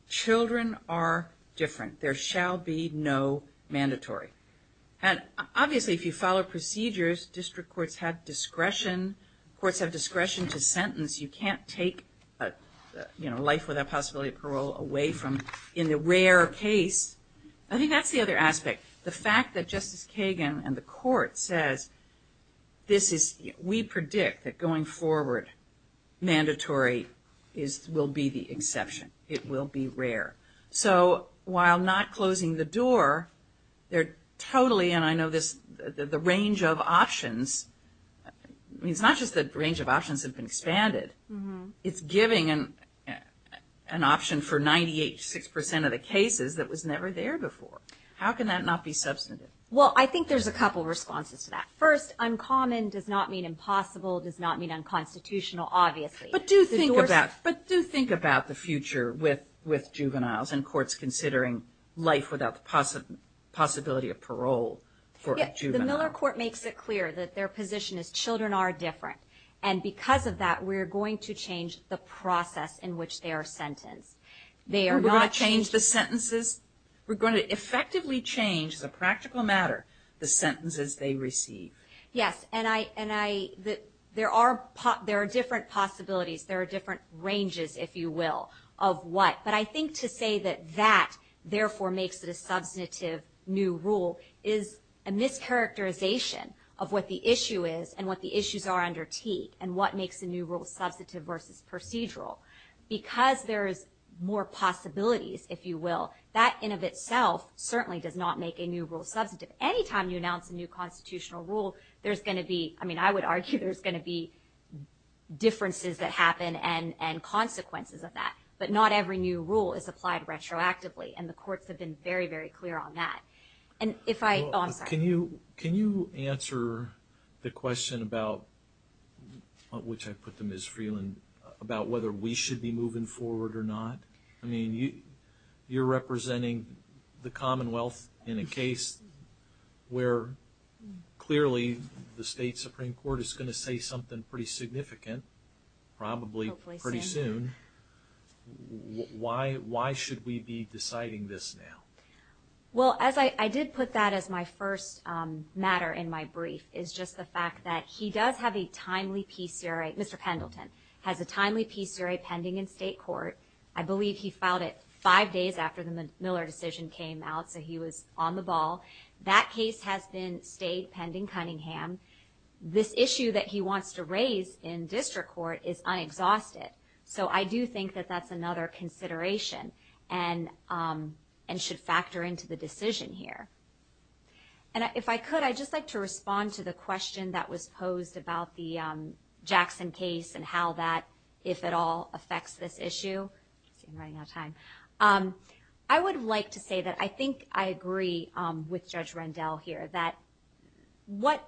Children are different. There shall be no mandatory. And obviously, if you follow procedures, district courts have discretion. Courts have discretion to sentence. You can't take life without possibility of parole away from – in the rare case. I think that's the other aspect. The fact that Justice Kagan and the court says this is – we predict that going forward, mandatory will be the exception. It will be rare. So while not closing the door, they're totally – and I know the range of options – it's not just the range of options have been expanded. It's giving an option for 98, 6% of the cases that was never there before. How can that not be substantive? Well, I think there's a couple responses to that. First, uncommon does not mean impossible, does not mean unconstitutional, obviously. But do think about the future with juveniles and courts considering life without possibility of parole for a juvenile. Yes, the Miller Court makes it clear that their position is children are different. And because of that, we're going to change the process in which they are sentenced. They are not – We're going to change the sentences? We're going to effectively change, as a practical matter, the sentences they receive. Yes, and I – there are different possibilities. There are different ranges, if you will, of what. But I think to say that that therefore makes it a substantive new rule is a mischaracterization of what the issue is and what the issues are under key and what makes the new rule substantive versus procedural. Because there's more possibilities, if you will, that in and of itself certainly does not make a new rule substantive. Any time you announce a new constitutional rule, there's going to be – I mean, I would argue there's going to be differences that happen and consequences of that. But not every new rule is applied retroactively, and the courts have been very, very clear on that. And if I – Can you answer the question about – which I put to Ms. Freeland – about whether we should be moving forward or not? I mean, you're representing the Commonwealth in a case where clearly the state Supreme Court is going to say something pretty significant probably pretty soon. Why should we be deciding this now? Well, as I – I did put that as my first matter in my brief is just the fact that he does have a timely PCRA – Mr. Pendleton has a timely PCRA pending in state court. I believe he filed it five days after the Miller decision came out, so he was on the ball. That case has been stayed pending Cunningham. This issue that he wants to raise in district court is I exhaust it. So I do think that that's another consideration and should factor into the decision here. And if I could, I'd just like to respond to the question that was posed about the Jackson case and how that, if at all, affects this issue. I'm running out of time. I would like to say that I think I agree with Judge Rendell here that what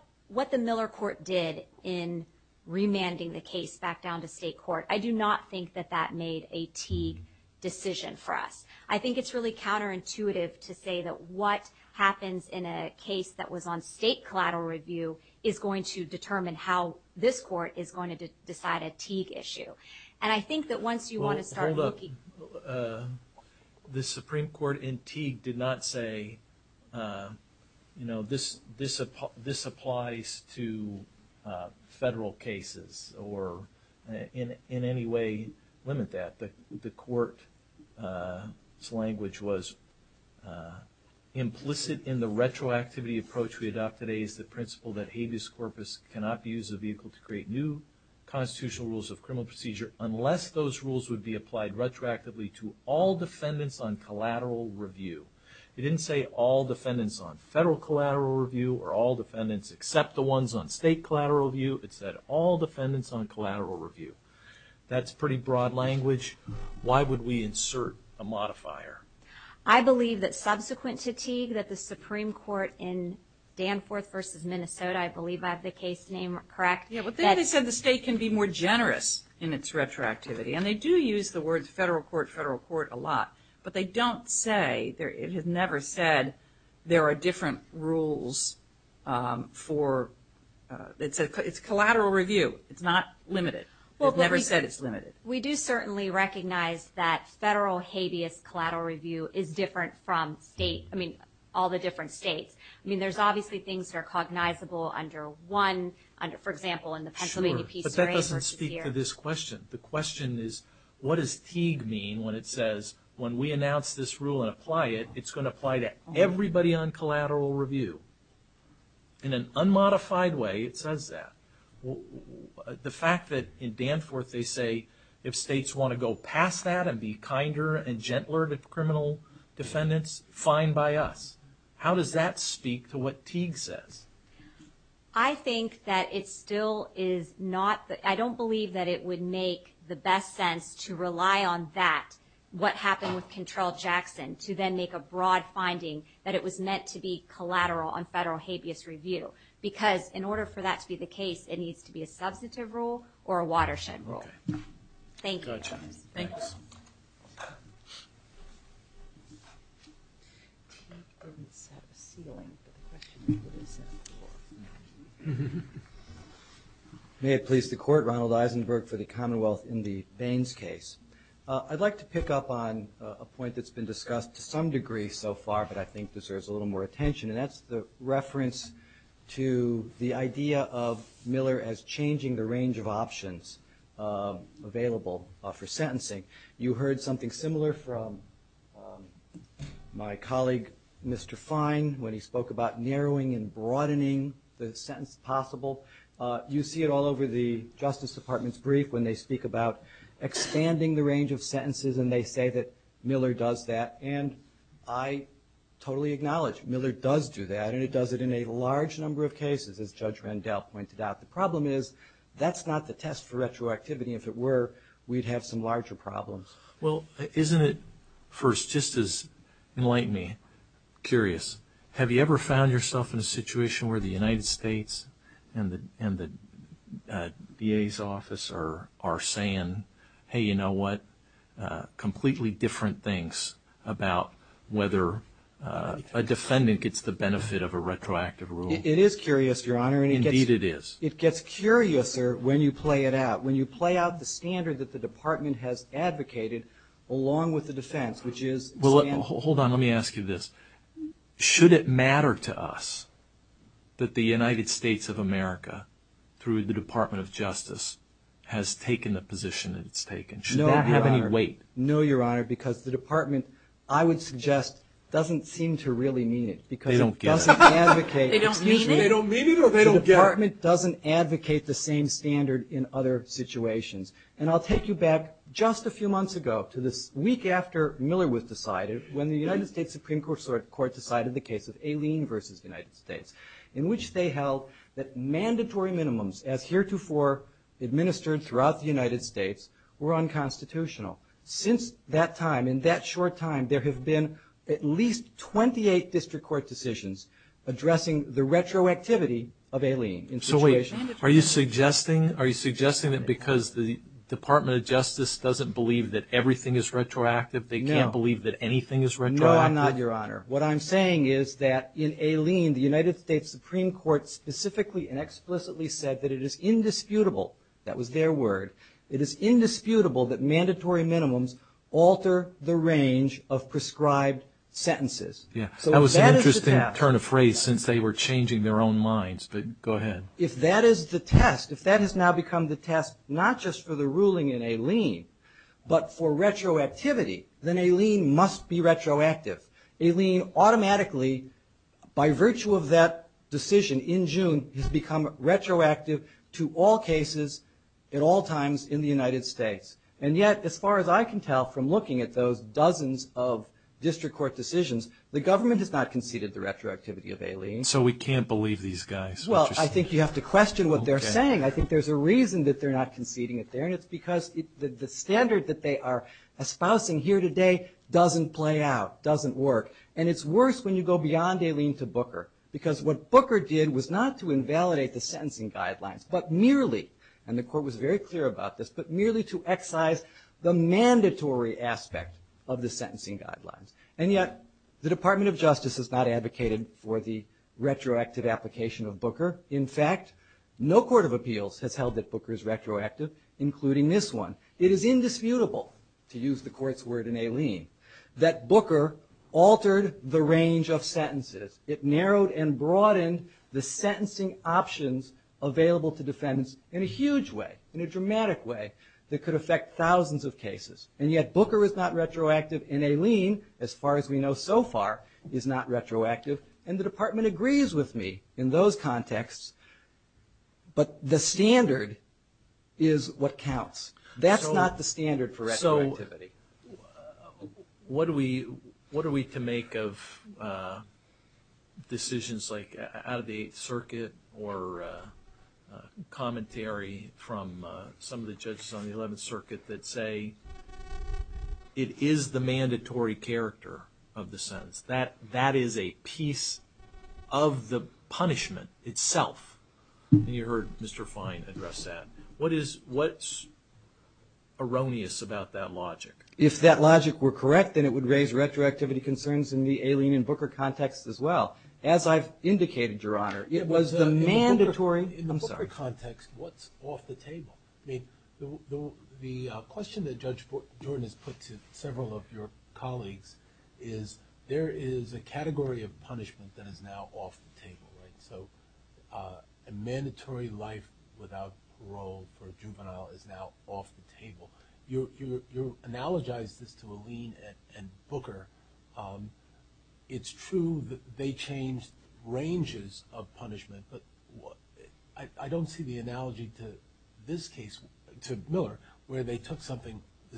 the Miller court did in remanding the case back down to state court, I do not think that that made a key decision for us. I think it's really counterintuitive to say that what happens in a case that was on state collateral review is going to determine how this court is going to decide a Teague issue. Well, hold up. The Supreme Court in Teague did not say this applies to federal cases or in any way limit that. The court's language was implicit in the retroactivity approach we adopted as the principle that habeas corpus cannot be used as a vehicle to create new constitutional rules of criminal procedure unless those rules would be applied retroactively to all defendants on collateral review. It didn't say all defendants on federal collateral review or all defendants except the ones on state collateral review. It said all defendants on collateral review. That's pretty broad language. Why would we insert a modifier? I believe that subsequent to Teague that the Supreme Court in Danforth versus Minnesota, I believe I have the case name correct. Yeah, but then they said the state can be more generous in its retroactivity. And they do use the words federal court, federal court a lot. But they don't say, it has never said there are different rules for, it's collateral review, it's not limited. It never said it's limited. We do certainly recognize that federal habeas collateral review is different from state, I mean, all the different states. I mean, there's obviously things that are cognizable under one, for example, in the Pennsylvania Peter A. But that doesn't speak to this question. The question is what does Teague mean when it says when we announce this rule and apply it, it's going to apply to everybody on collateral review? In an unmodified way, it says that. The fact that in Danforth they say if states want to go past that and be kinder and gentler to criminal defendants, fine by us. How does that speak to what Teague says? I think that it still is not, I don't believe that it would make the best sense to rely on that, what happened with Control Jackson, to then make a broad finding that it was meant to be collateral on federal habeas review. Because in order for that to be the case, it needs to be a substantive rule or a watershed rule. Thank you. Thank you. May it please the Court, Ronald Eisenberg for the Commonwealth in the Baines case. I'd like to pick up on a point that's been discussed to some degree so far, but I think deserves a little more attention, and that's the reference to the idea of Miller as changing the range of options available for sentencing. You heard something similar from my colleague, Mr. Fine, when he spoke about narrowing and broadening the sentence possible. You see it all over the Justice Department's brief when they speak about expanding the range of sentences and they say that Miller does that. And I totally acknowledge Miller does do that, and it does it in a large number of cases as Judge Vandell pointed out. The problem is that's not the test for retroactivity. If it were, we'd have some larger problems. Well, isn't it, first, just as enlightening, curious, have you ever found yourself in a situation where the United States and the VA's office are saying, hey, you know what, completely different things about whether a defendant gets the benefit of a retroactive rule? It is curious, Your Honor. Indeed it is. It gets curiouser when you play it out, when you play out the standard that the Department has advocated along with the defense, which is- Well, hold on. Let me ask you this. Should it matter to us that the United States of America, through the Department of Justice, has taken the position that it's taken? Does that have any weight? No, Your Honor, because the Department, I would suggest, doesn't seem to really mean it because it doesn't advocate- They don't get it. They don't mean it or they don't get it. The Department doesn't advocate the same standard in other situations. And I'll take you back just a few months ago to the week after Miller was decided, when the United States Supreme Court decided the case of Aileen v. United States, in which they held that mandatory minimums, as heretofore administered throughout the United States, were unconstitutional. Since that time, in that short time, there have been at least 28 district court decisions addressing the retroactivity of Aileen. Are you suggesting that because the Department of Justice doesn't believe that everything is retroactive, they can't believe that anything is retroactive? No, I'm not, Your Honor. What I'm saying is that in Aileen, the United States Supreme Court specifically and explicitly said that it is indisputable, that was their word, it is indisputable that mandatory minimums alter the range of prescribed sentences. Yeah, that was an interesting turn of phrase since they were changing their own minds, but go ahead. If that is the test, if that has now become the test, not just for the ruling in Aileen, but for retroactivity, then Aileen must be retroactive. Aileen automatically, by virtue of that decision in June, has become retroactive to all cases at all times in the United States. And yet, as far as I can tell from looking at those dozens of district court decisions, the government has not conceded the retroactivity of Aileen. So we can't believe these guys. Well, I think you have to question what they're saying. I think there's a reason that they're not conceding it there, and it's because the standard that they are espousing here today doesn't play out, doesn't work. And it's worse when you go beyond Aileen to Booker, because what Booker did was not to invalidate the sentencing guidelines, but merely, and the court was very clear about this, but merely to excise the mandatory aspect of the sentencing guidelines. And yet, the Department of Justice has not advocated for the retroactive application of Booker. In fact, no court of appeals has held that Booker is retroactive, including this one. It is indisputable, to use the court's word in Aileen, that Booker altered the range of sentences. It narrowed and broadened the sentencing options available to defendants in a huge way, in a dramatic way that could affect thousands of cases. And yet, Booker is not retroactive, and Aileen, as far as we know so far, is not retroactive. And the department agrees with me in those contexts, but the standard is what counts. That's not the standard for retroactivity. So what are we to make of decisions like out of the Eighth Circuit or commentary from some of the judges on the Eleventh Circuit that say it is the mandatory character of the sentence? That is a piece of the punishment itself. You heard Mr. Fine address that. What's erroneous about that logic? If that logic were correct, then it would raise retroactivity concerns in the Aileen and Booker context as well. As I've indicated, Your Honor, it was the mandatory… The question that Judge Boren has put to several of your colleagues is there is a category of punishment that is now off the table. So a mandatory life without parole for a juvenile is now off the table. You've analogized this to Aileen and Booker. It's true that they changed ranges of punishment, but I don't see the analogy to this case, to Miller, where the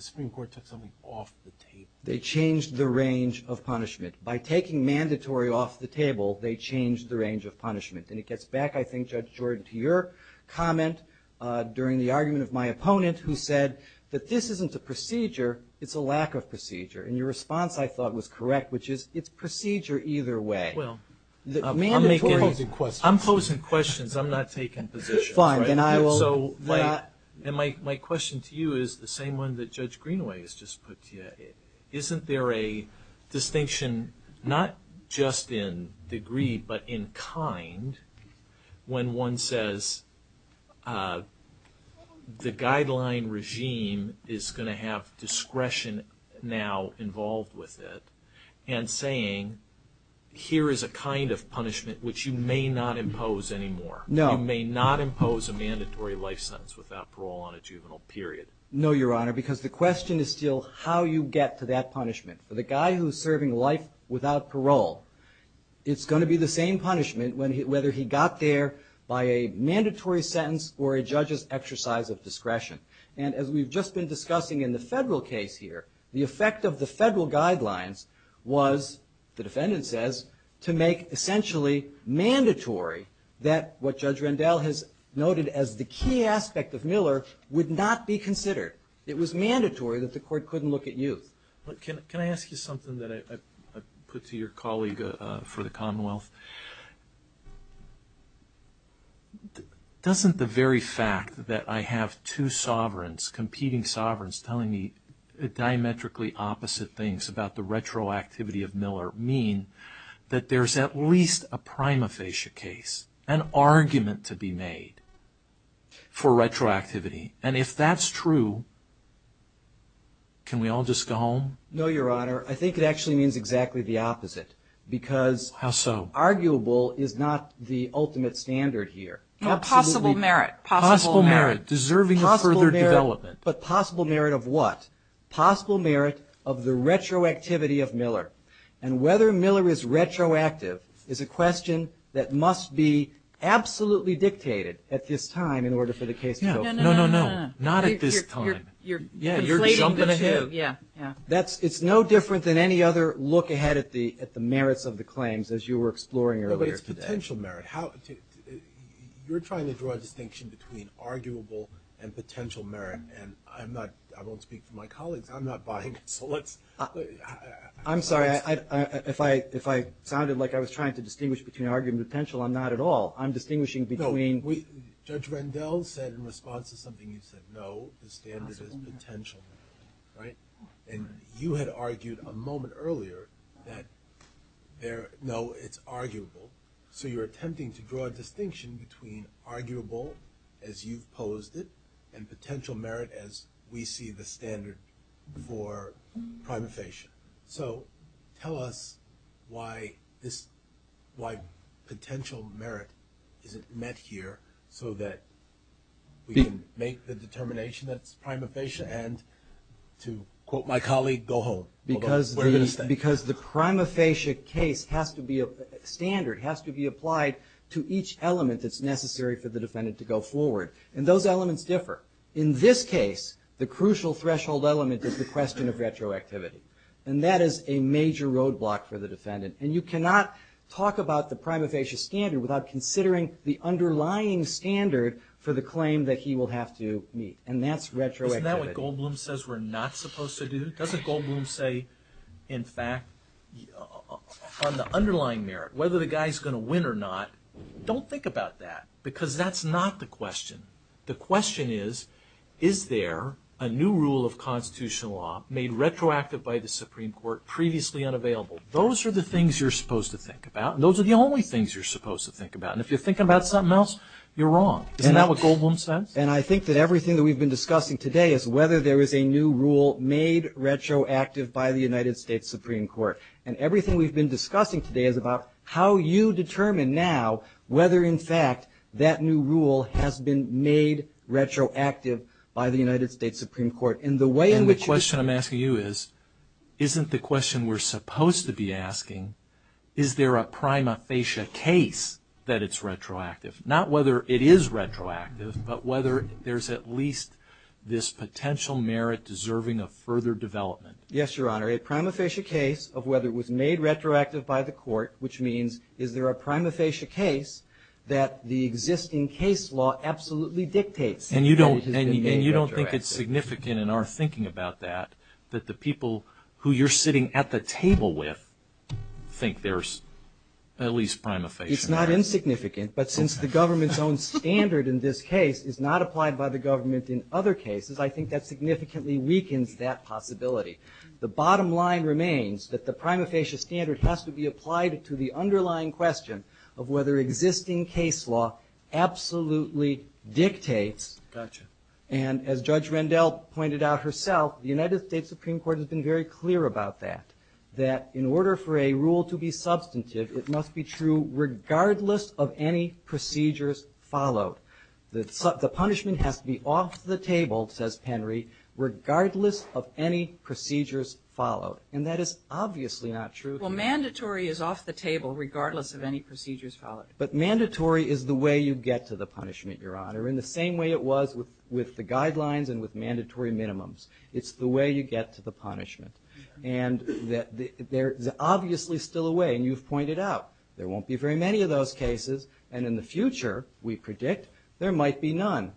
Supreme Court took something off the table. They changed the range of punishment. By taking mandatory off the table, they changed the range of punishment. And it gets back, I think, Judge Jordan, to your comment during the argument of my opponent who said that this isn't a procedure, it's a lack of procedure. And your response, I thought, was correct, which is it's a procedure either way. I'm posing questions. I'm not taking positions. And my question to you is the same one that Judge Greenway has just put to you. Isn't there a distinction not just in degree but in kind when one says the guideline regime is going to have discretion now involved with it and saying here is a kind of punishment which you may not impose anymore? You may not impose a mandatory life sentence without parole on a juvenile period. No, Your Honor, because the question is still how you get to that punishment. For the guy who is serving life without parole, it's going to be the same punishment whether he got there by a mandatory sentence or a judge's exercise of discretion. And as we've just been discussing in the federal case here, the effect of the federal guidelines was, the defendant says, to make essentially mandatory that what Judge Rendell has noted as the key aspect of Miller would not be considered. It was mandatory that the court couldn't look at you. Can I ask you something that I put to your colleague for the Commonwealth? Doesn't the very fact that I have two sovereigns, competing sovereigns, telling me diametrically opposite things about the retroactivity of Miller mean that there's at least a prima facie case, an argument to be made for retroactivity? And if that's true, can we all just go home? No, Your Honor. I think it actually means exactly the opposite. How so? Because arguable is not the ultimate standard here. Possible merit. Possible merit. Deserving of further development. But possible merit of what? Possible merit of the retroactivity of Miller. And whether Miller is retroactive is a question that must be absolutely dictated at this time in order for the case to go forward. No, no, no. Not at this time. It's no different than any other look ahead at the merits of the claims as you were exploring earlier today. But it's potential merit. You're trying to draw a distinction between arguable and potential merit, and I don't speak for my colleagues. I'm not buying it. I'm sorry. If I sounded like I was trying to distinguish between arguable and potential, I'm not at all. I'm distinguishing between. Judge Rendell said in response to something you said, no, the standard is potential, right? And you had argued a moment earlier that, no, it's arguable. So you're attempting to draw a distinction between arguable as you posed it and potential merit as we see the standard for primarization. So tell us why potential merit isn't met here so that we can make the determination that it's primarization and to quote my colleague, go home. Because the primarization case has to be a standard, has to be applied to each element that's necessary for the defendant to go forward. And those elements differ. In this case, the crucial threshold element is the question of retroactivity, and that is a major roadblock for the defendant. And you cannot talk about the prima facie standard without considering the underlying standard for the claim that he will have to meet, and that's retroactivity. Isn't that what Goldblum says we're not supposed to do? Doesn't Goldblum say, in fact, on the underlying merit, whether the guy's going to win or not, don't think about that because that's not the question. The question is, is there a new rule of constitutional law made retroactive by the Supreme Court previously unavailable? Those are the things you're supposed to think about, and those are the only things you're supposed to think about. And if you're thinking about something else, you're wrong. Isn't that what Goldblum says? And I think that everything that we've been discussing today is whether there is a new rule made retroactive by the United States Supreme Court. And everything we've been discussing today is about how you determine now whether, in fact, that new rule has been made retroactive by the United States Supreme Court. And the way in which you... And the question I'm asking you is, isn't the question we're supposed to be asking, is there a prima facie case that it's retroactive? Not whether it is retroactive, but whether there's at least this potential merit deserving of further development. Yes, Your Honor. A prima facie case of whether it was made retroactive by the court, which means is there a prima facie case that the existing case law absolutely dictates that it is made retroactive. And you don't think it's significant in our thinking about that, that the people who you're sitting at the table with think there's at least prima facie merit. It's not insignificant, but since the government's own standard in this case is not applied by the government in other cases, I think that significantly weakens that possibility. The bottom line remains that the prima facie standard has to be applied to the underlying question of whether existing case law absolutely dictates. Gotcha. And as Judge Randell pointed out herself, the United States Supreme Court has been very clear about that, that in order for a rule to be substantive, it must be true regardless of any procedures followed. The punishment has to be off the table, says Penry, regardless of any procedures followed. And that is obviously not true. Well, mandatory is off the table regardless of any procedures followed. But mandatory is the way you get to the punishment, Your Honor, in the same way it was with the guidelines and with mandatory minimums. It's the way you get to the punishment. And they're obviously still away, and you've pointed out there won't be very many of those cases. And in the future, we predict, there might be none.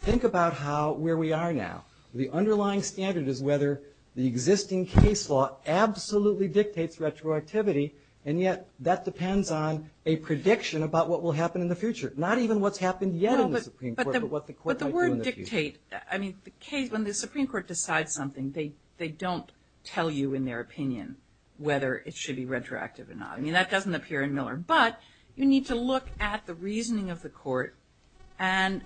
Think about where we are now. The underlying standard is whether the existing case law absolutely dictates retroactivity, and yet that depends on a prediction about what will happen in the future, not even what's happened yet in the Supreme Court, but what the court might do in the future. But the word dictate, I mean, when the Supreme Court decides something, they don't tell you in their opinion whether it should be retroactive or not. I mean, that doesn't appear in Miller. But you need to look at the reasoning of the court. And,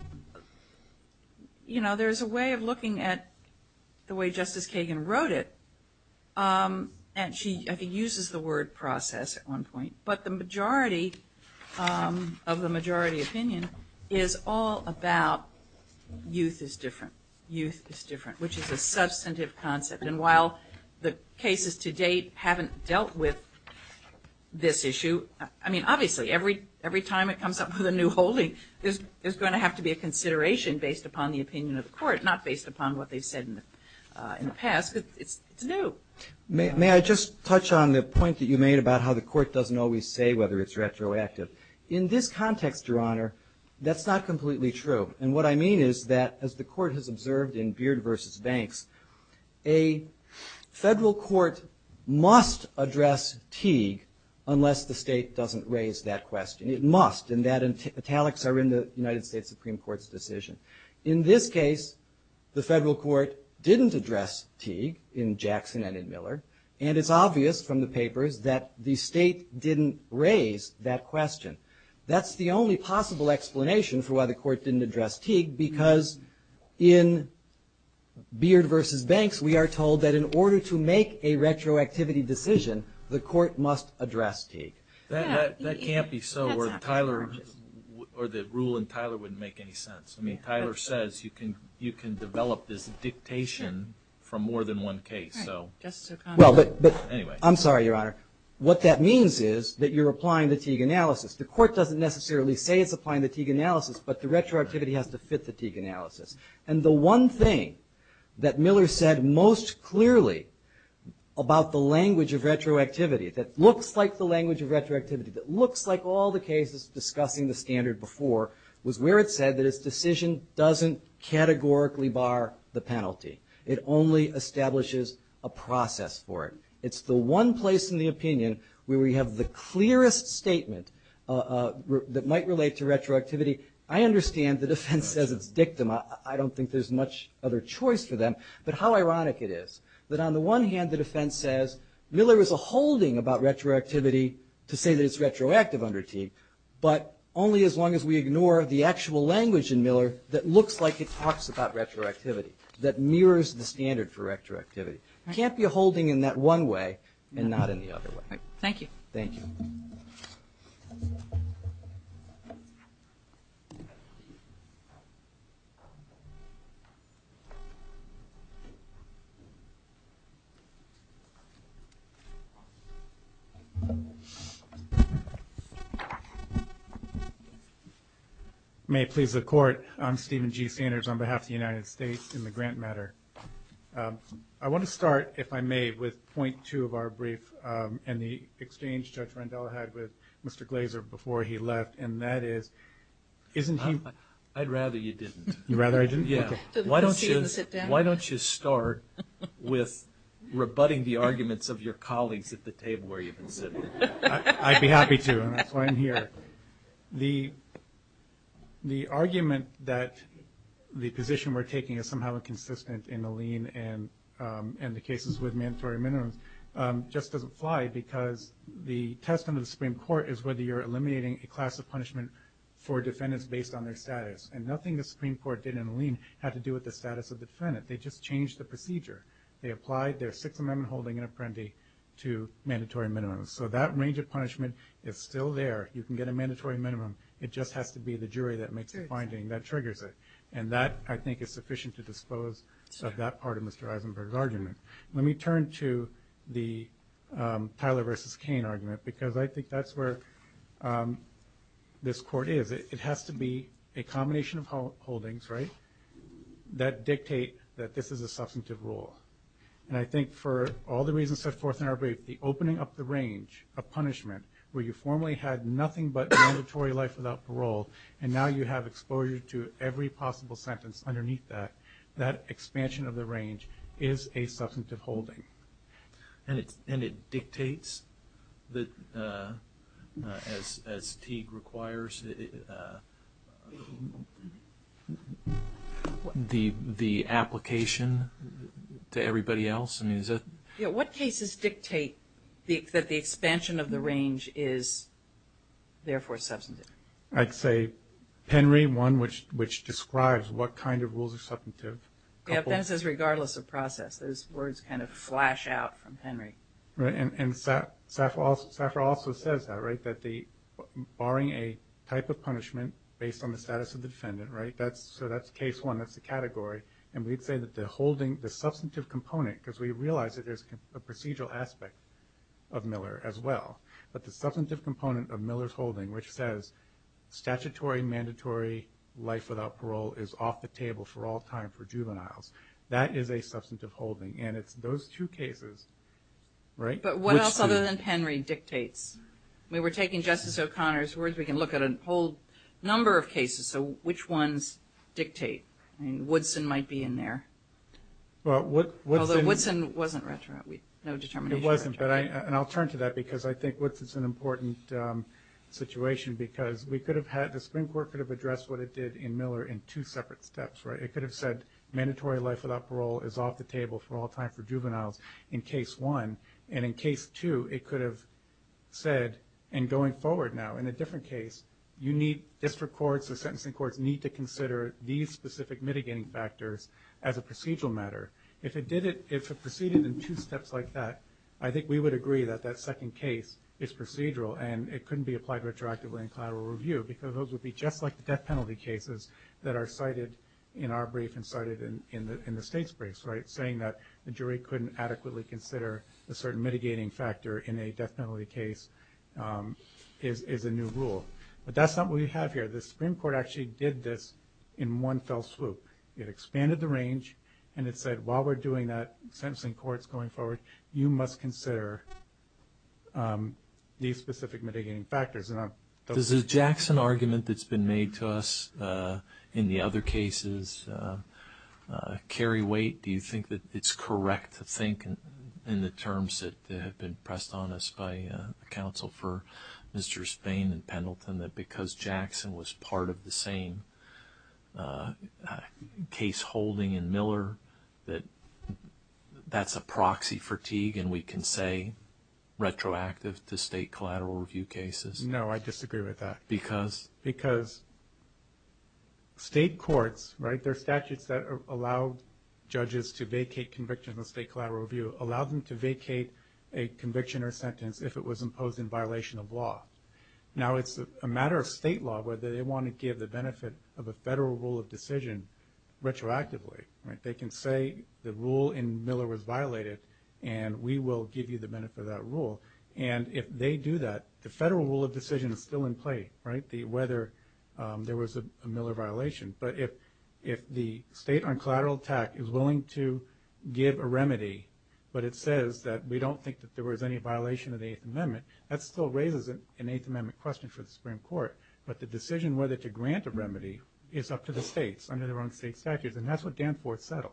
you know, there's a way of looking at the way Justice Kagan wrote it, and she uses the word process at one point. But the majority of the majority opinion is all about youth is different, youth is different, which is a substantive concept. And while the cases to date haven't dealt with this issue, I mean, obviously, every time it comes up with a new holding, there's going to have to be a consideration based upon the opinion of the court, not based upon what they've said in the past, because it's new. May I just touch on the point that you made about how the court doesn't always say whether it's retroactive? In this context, Your Honor, that's not completely true. And what I mean is that, as the court has observed in Beard v. Banks, a federal court must address Teague unless the state doesn't raise that question. It must, and that italics are in the United States Supreme Court's decision. In this case, the federal court didn't address Teague in Jackson and in Miller, and it's obvious from the papers that the state didn't raise that question. That's the only possible explanation for why the court didn't address Teague, because in Beard v. Banks, we are told that in order to make a retroactivity decision, the court must address Teague. That can't be so, or the rule in Tyler wouldn't make any sense. I mean, Tyler says you can develop this dictation for more than one case. I'm sorry, Your Honor. What that means is that you're applying the Teague analysis. The court doesn't necessarily say it's applying the Teague analysis, but the retroactivity has to fit the Teague analysis. And the one thing that Miller said most clearly about the language of retroactivity that looks like the language of retroactivity, that looks like all the cases discussing the standard before, was where it said that its decision doesn't categorically bar the penalty. It only establishes a process for it. It's the one place in the opinion where we have the clearest statement that might relate to retroactivity. I understand the defense as a victim. I don't think there's much other choice for them, but how ironic it is that on the one hand, the defense says Miller is a holding about retroactivity to say that it's retroactive under Teague, but only as long as we ignore the actual language in Miller that looks like it talks about retroactivity, that mirrors the standard for retroactivity. You can't be a holding in that one way and not in the other way. Thank you. Thank you. May it please the Court, I'm Stephen G. Sanders on behalf of the United States in the grant matter. I want to start, if I may, with point two of our brief and the exchange Judge Randall had with Mr. Glaser before he left, and that is, isn't he? I'd rather you didn't. You'd rather I didn't? Yeah. Why don't you start with rebutting the arguments of your colleagues at the table where you've been sitting? I'd be happy to, and that's why I'm here. The argument that the position we're taking is somehow inconsistent in the lien and the cases with mandatory minimums just doesn't apply because the test of the Supreme Court is whether you're eliminating a class of punishment for defendants based on their status, and nothing the Supreme Court did in the lien had to do with the status of the defendant. They just changed the procedure. They applied their Sixth Amendment holding and apprendi to mandatory minimums. So that range of punishment is still there. You can get a mandatory minimum. It just has to be the jury that makes a finding that triggers it, and that I think is sufficient to dispose of that part of Mr. Eisenberg's argument. Let me turn to the Tyler v. Cain argument because I think that's where this Court is. It has to be a combination of holdings, right, that dictate that this is a substantive law. And I think for all the reasons set forth in our brief, the opening up the range of punishment where you formerly had nothing but a mandatory life without parole, and now you have exposure to every possible sentence underneath that, that expansion of the range is a substantive holding. And it dictates, as Teague requires, the application to everybody else? What cases dictate that the expansion of the range is therefore substantive? I'd say Henry, one which describes what kind of rules are substantive. Yeah, that says regardless of process. Those words kind of flash out from Henry. And Safra also says that, right, that barring a type of punishment based on the status of the defendant, right, so that's case one, that's the category. And we say that the substantive component, because we realize that there's a procedural aspect of Miller as well, but the substantive component of Miller's holding, which says statutory, mandatory life without parole is off the table for all time for juveniles, that is a substantive holding. And it's those two cases, right? But what else other than Henry dictates? We were taking Justice O'Connor's words. We can look at a whole number of cases. So which ones dictate? I mean, Woodson might be in there. Although Woodson wasn't retro. It wasn't. And I'll turn to that because I think Woodson's an important situation because the Supreme Court could have addressed what it did in Miller in two separate steps, right? It could have said mandatory life without parole is off the table for all time for juveniles in case one. And in case two, it could have said, and going forward now in a different case, district courts or sentencing courts need to consider these specific mitigating factors as a procedural matter. If it proceeded in two steps like that, I think we would agree that that second case is procedural and it couldn't be applied retroactively in collateral review because those would be just like the death penalty cases that are cited in our brief and cited in the state's brief, right? Saying that the jury couldn't adequately consider a certain mitigating factor in a death penalty case is a new rule. But that's not what we have here. The Supreme Court actually did this in one fell swoop. It expanded the range and it said while we're doing that, sentencing courts going forward, you must consider these specific mitigating factors. Is the Jackson argument that's been made to us in the other cases carry weight? Do you think that it's correct to think in the terms that have been pressed on us by counsel for Mr. Spain and Pendleton that because Jackson was part of the same case holding in Miller that that's a proxy fatigue and we can say retroactive to state collateral review cases? No, I disagree with that. Because? Because state courts, right, there are statutes that allow judges to vacate conviction of state collateral review, allow them to vacate a conviction or sentence if it was imposed in violation of law. Now, it's a matter of state law whether they want to give the benefit of a federal rule of decision retroactively. They can say the rule in Miller was violated and we will give you the benefit of that rule. And if they do that, the federal rule of decision is still in place, right, whether there was a Miller violation. But if the state on collateral tax is willing to give a remedy, but it says that we don't think that there was any violation of the Eighth Amendment, that still raises an Eighth Amendment question for the Supreme Court. But the decision whether to grant a remedy is up to the states under their own state statutes. And that's what Danforth settled.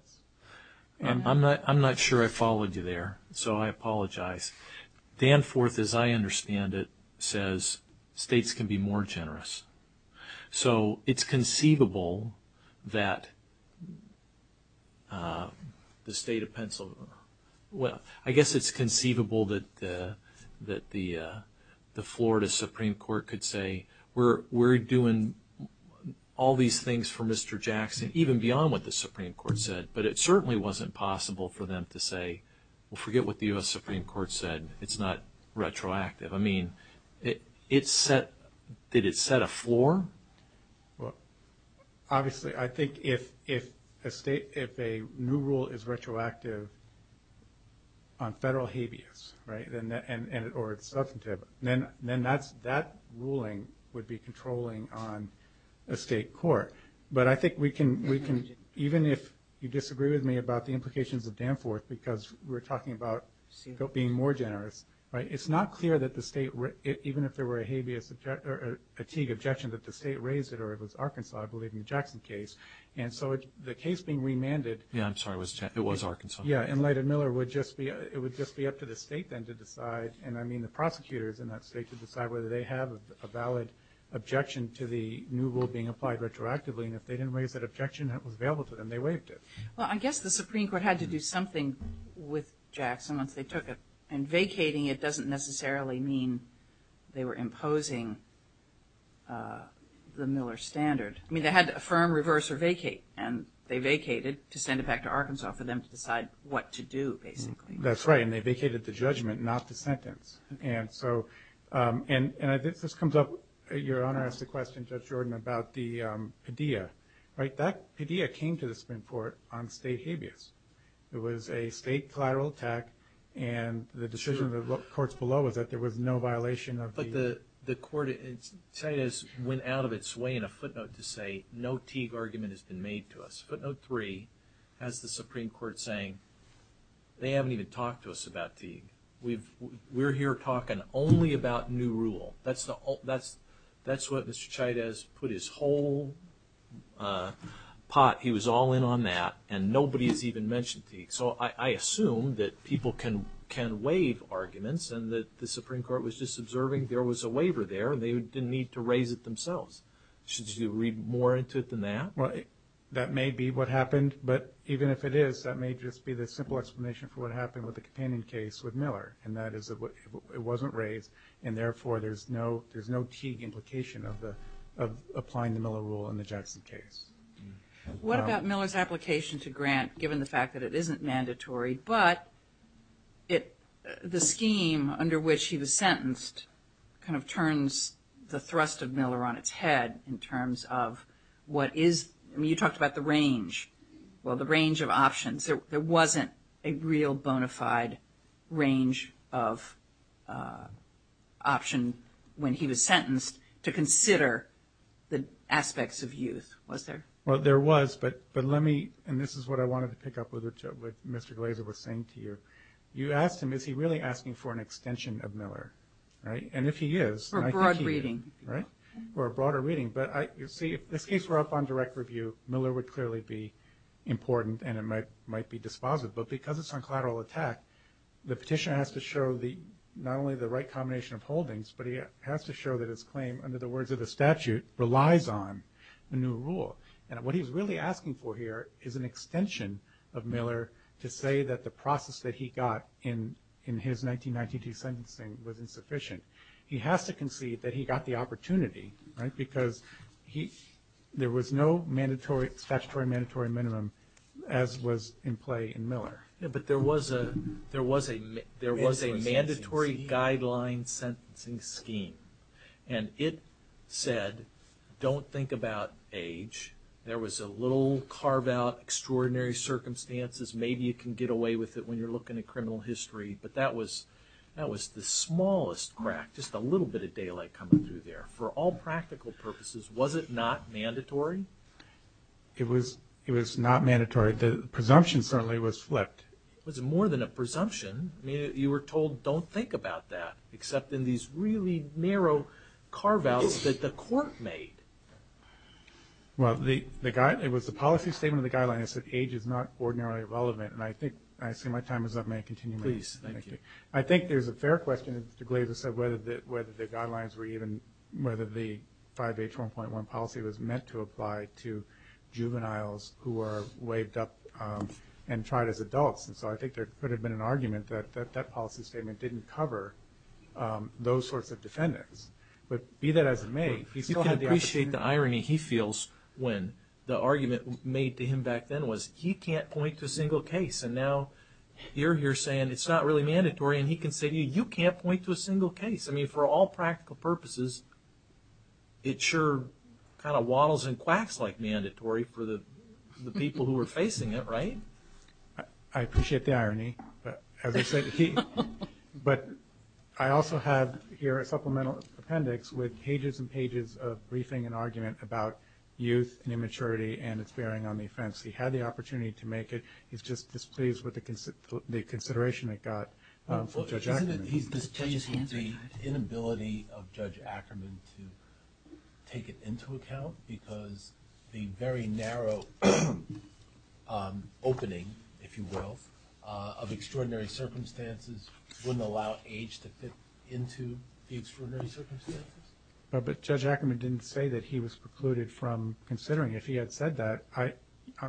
I'm not sure I followed you there, so I apologize. Danforth, as I understand it, says states can be more generous. So it's conceivable that the state of Pennsylvania – well, I guess it's conceivable that the Florida Supreme Court could say, we're doing all these things for Mr. Jackson, even beyond what the Supreme Court said. But it certainly wasn't possible for them to say, well, forget what the U.S. Supreme Court said. It's not retroactive. I mean, did it set a floor? Obviously, I think if a new rule is retroactive on federal habeas, right, or substantive, then that ruling would be controlling on a state court. But I think we can – even if you disagree with me about the implications of Danforth, because we're talking about being more generous, right, it's not clear that the state – even if there were a habeas or fatigue objection that the state raised, or if it was Arkansas, I believe in the Jackson case. And so the case being remanded – Yeah, I'm sorry, it was Arkansas. Yeah, in light of Miller, it would just be up to the state then to decide, and I mean the prosecutors in that state, to decide whether they have a valid objection to the new rule being applied retroactively. And if they didn't waive that objection that was available to them, they waived it. Well, I guess the Supreme Court had to do something with Jackson once they took it. And vacating it doesn't necessarily mean they were imposing the Miller standard. I mean they had to affirm, reverse, or vacate, and they vacated to send it back to Arkansas for them to decide what to do, basically. That's right, and they vacated the judgment, not the sentence. And so – and I think this comes up – your Honor asked a question, Judge Jordan, about the pedia. Right, that pedia came to the Supreme Court on state habeas. It was a state collateral attack, and the decision of the courts below was that there was no violation of the – But the court – Chávez went out of its way in a footnote to say no Teague argument has been made to us. Footnote three has the Supreme Court saying they haven't even talked to us about Teague. We're here talking only about new rule. That's what Mr. Chávez put his whole pot – he was all in on that, and nobody has even mentioned Teague. So I assume that people can waive arguments and that the Supreme Court was just observing there was a waiver there, and they didn't need to raise it themselves. Should you read more into it than that? Right, that may be what happened, but even if it is, that may just be the simple explanation for what happened with the companion case with Miller, and that is it wasn't waived, and therefore there's no Teague implication of applying the Miller rule in the Judgment case. What about Miller's application to Grant, given the fact that it isn't mandatory, but the scheme under which he was sentenced kind of turns the thrust of Miller on its head in terms of what is – I mean, you talked about the range, well, the range of options. There wasn't a real bona fide range of option when he was sentenced to consider the aspects of use, was there? Well, there was, but let me – and this is what I wanted to pick up with what Mr. Glazer was saying to you. You asked him if he's really asking for an extension of Miller, right, and if he is. For a broad reading. Right, for a broader reading. But you see, if this case were up on direct review, Miller would clearly be important and it might be dispositive, but because it's on collateral attack, the petition has to show not only the right combination of holdings, but it has to show that its claim, under the words of the statute, relies on the new rule. And what he's really asking for here is an extension of Miller to say that the process that he got in his 1992 sentencing was insufficient. He has to concede that he got the opportunity, right, because there was no statutory mandatory minimum as was in play in Miller. But there was a mandatory guideline sentencing scheme, and it said don't think about age. There was a little carve-out, extraordinary circumstances. Maybe you can get away with it when you're looking at criminal history, but that was the smallest crack, just a little bit of daylight coming through there. For all practical purposes, was it not mandatory? It was not mandatory. I'm sorry, the presumption certainly was flipped. It was more than a presumption. You were told don't think about that, except in these really narrow carve-outs that the court made. Well, it was the policy statement of the guidelines that said age is not ordinarily relevant, and I think my time is up. May I continue? Please, thank you. I think there's a fair question, as Mr. Glazer said, whether the guidelines were even, whether the 5H1.1 policy was meant to apply to juveniles who were waived up and tried as adults. And so I think there could have been an argument that that policy statement didn't cover those sorts of defendants. But be that as it may, you still have the question. You can appreciate the irony he feels when the argument made to him back then was he can't point to a single case. And now you're here saying it's not really mandatory, and he can say you can't point to a single case. I mean, for all practical purposes, it sure kind of waddles and quacks like mandatory for the people who are facing it, right? I appreciate the irony. But I also have here a supplemental appendix with pages and pages of briefing and argument about youth and immaturity and its bearing on the offense. He had the opportunity to make it. He's just displeased with the consideration it got. He's displeased with the inability of Judge Ackerman to take it into account because the very narrow opening, if you will, of extraordinary circumstances wouldn't allow age to fit into the extraordinary circumstances. But Judge Ackerman didn't say that he was precluded from considering. If he had said that,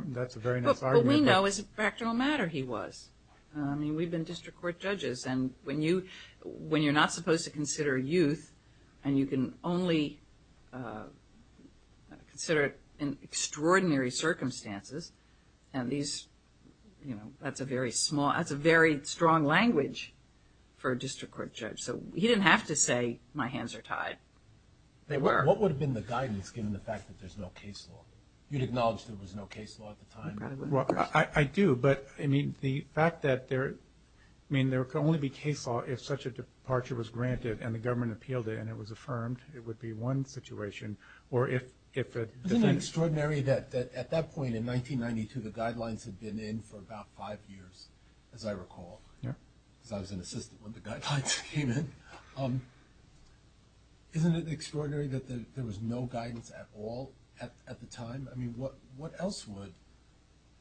that's a very nice argument. But what we know is the practical matter he was. I mean, we've been district court judges, and when you're not supposed to consider youth and you can only consider it in extraordinary circumstances, that's a very strong language for a district court judge. So he didn't have to say my hands are tied. They were. What would have been the guidance given the fact that there's no case law? You acknowledged there was no case law at the time. Well, I do. But, I mean, the fact that there could only be case law if such a departure was granted and the government appealed it and it was affirmed, it would be one situation. Isn't it extraordinary that at that point in 1992 the guidelines had been in for about five years, as I recall? I was an assistant when the guidelines came in. Isn't it extraordinary that there was no guidance at all at the time? I mean, what else would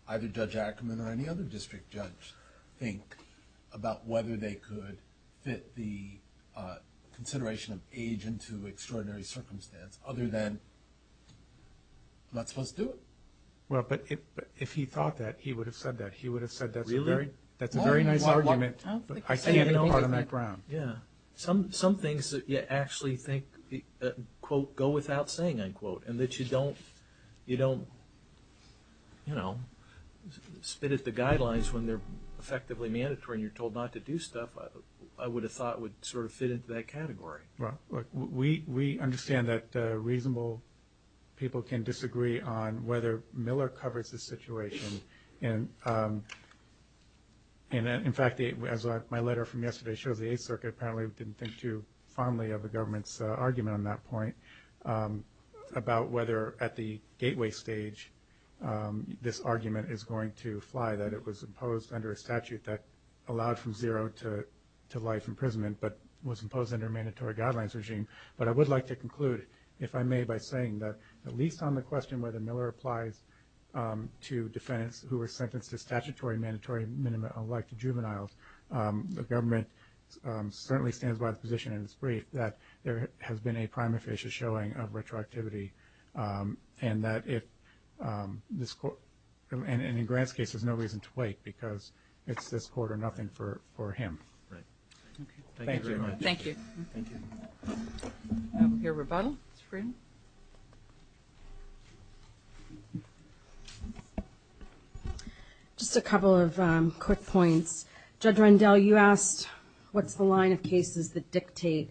either Judge Ackerman or any other district judge think about whether they could fit the consideration of age into extraordinary circumstances other than not supposed to do it? Well, but if he thought that, he would have said that. He would have said that's a very nice argument, but I can't talk on that ground. Yeah. Some things that you actually think, quote, go without saying, unquote, and that you don't, you know, spit at the guidelines when they're effectively mandatory and you're told not to do stuff, I would have thought would sort of fit into that category. Well, we understand that reasonable people can disagree on whether Miller covers the situation. And, in fact, as my letter from yesterday showed, the Eighth Circuit apparently didn't think too fondly of the government's argument on that point about whether at the gateway stage this argument is going to fly, that it was imposed under a statute that allowed from zero to life imprisonment but was imposed under a mandatory guidelines regime. But I would like to conclude, if I may, by saying that at least on the question whether Miller applies to defendants who were sentenced to statutory mandatory minimum of life to juveniles, the government certainly stands by the position in its brief that there has been a prime official showing of retroactivity and that if this court, and in Grant's case, there's no reason to wait because it's this court or nothing for him. Right. Thank you very much. Thank you. Thank you. We have a rebuttal. Ms. Friend. Just a couple of quick points. Judge Rendell, you asked what's the line of cases that dictate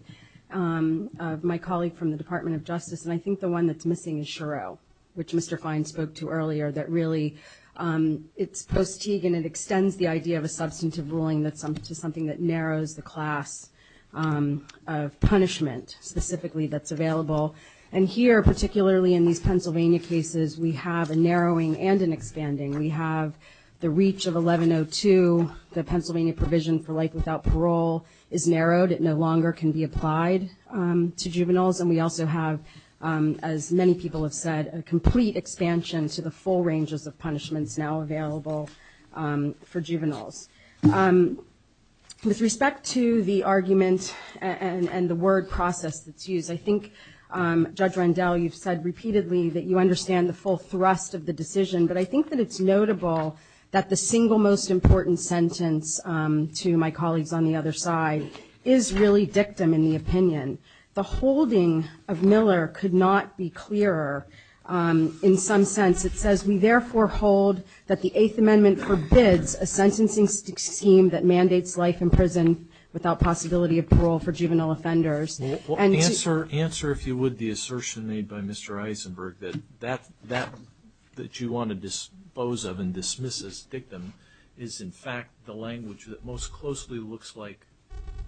my colleague from the Department of Justice, and I think the one that's missing is Shiro, which Mr. Klein spoke to earlier, that really it's post-Tegan. It extends the idea of a substantive ruling to something that narrows the class of punishment specifically that's available. And here, particularly in these Pennsylvania cases, we have a narrowing and an expanding. We have the reach of 1102. The Pennsylvania provision for life without parole is narrowed. It no longer can be applied to juveniles. And we also have, as many people have said, a complete expansion to the full ranges of punishments now available for juveniles. With respect to the argument and the word process that's used, I think, Judge Rendell, you've said repeatedly that you understand the full thrust of the decision, but I think that it's notable that the single most important sentence to my colleagues on the other side is really dictum in the opinion. The holding of Miller could not be clearer in some sense. It says, we therefore hold that the Eighth Amendment forbids a sentencing scheme that mandates life in prison without possibility of parole for juvenile offenders. Answer, if you would, the assertion made by Mr. Eisenberg, that that that you want to dispose of and dismiss as dictum is, in fact, the language that most closely looks like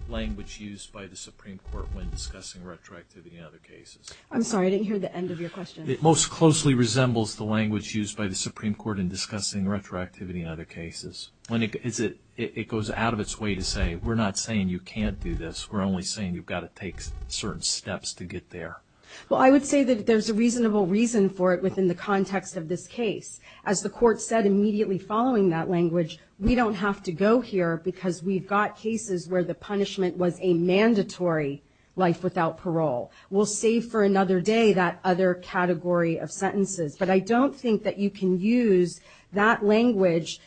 language used by the Supreme Court when discussing retroactivity in other cases. I'm sorry, I didn't hear the end of your question. It most closely resembles the language used by the Supreme Court in discussing retroactivity in other cases. It goes out of its way to say, we're not saying you can't do this. We're only saying you've got to take certain steps to get there. Well, I would say that there's a reasonable reason for it within the context of this case. As the court said immediately following that language, we don't have to go here because we've got cases where the punishment was a mandatory life without parole. We'll save for another day that other category of sentences. But I don't think that you can use that language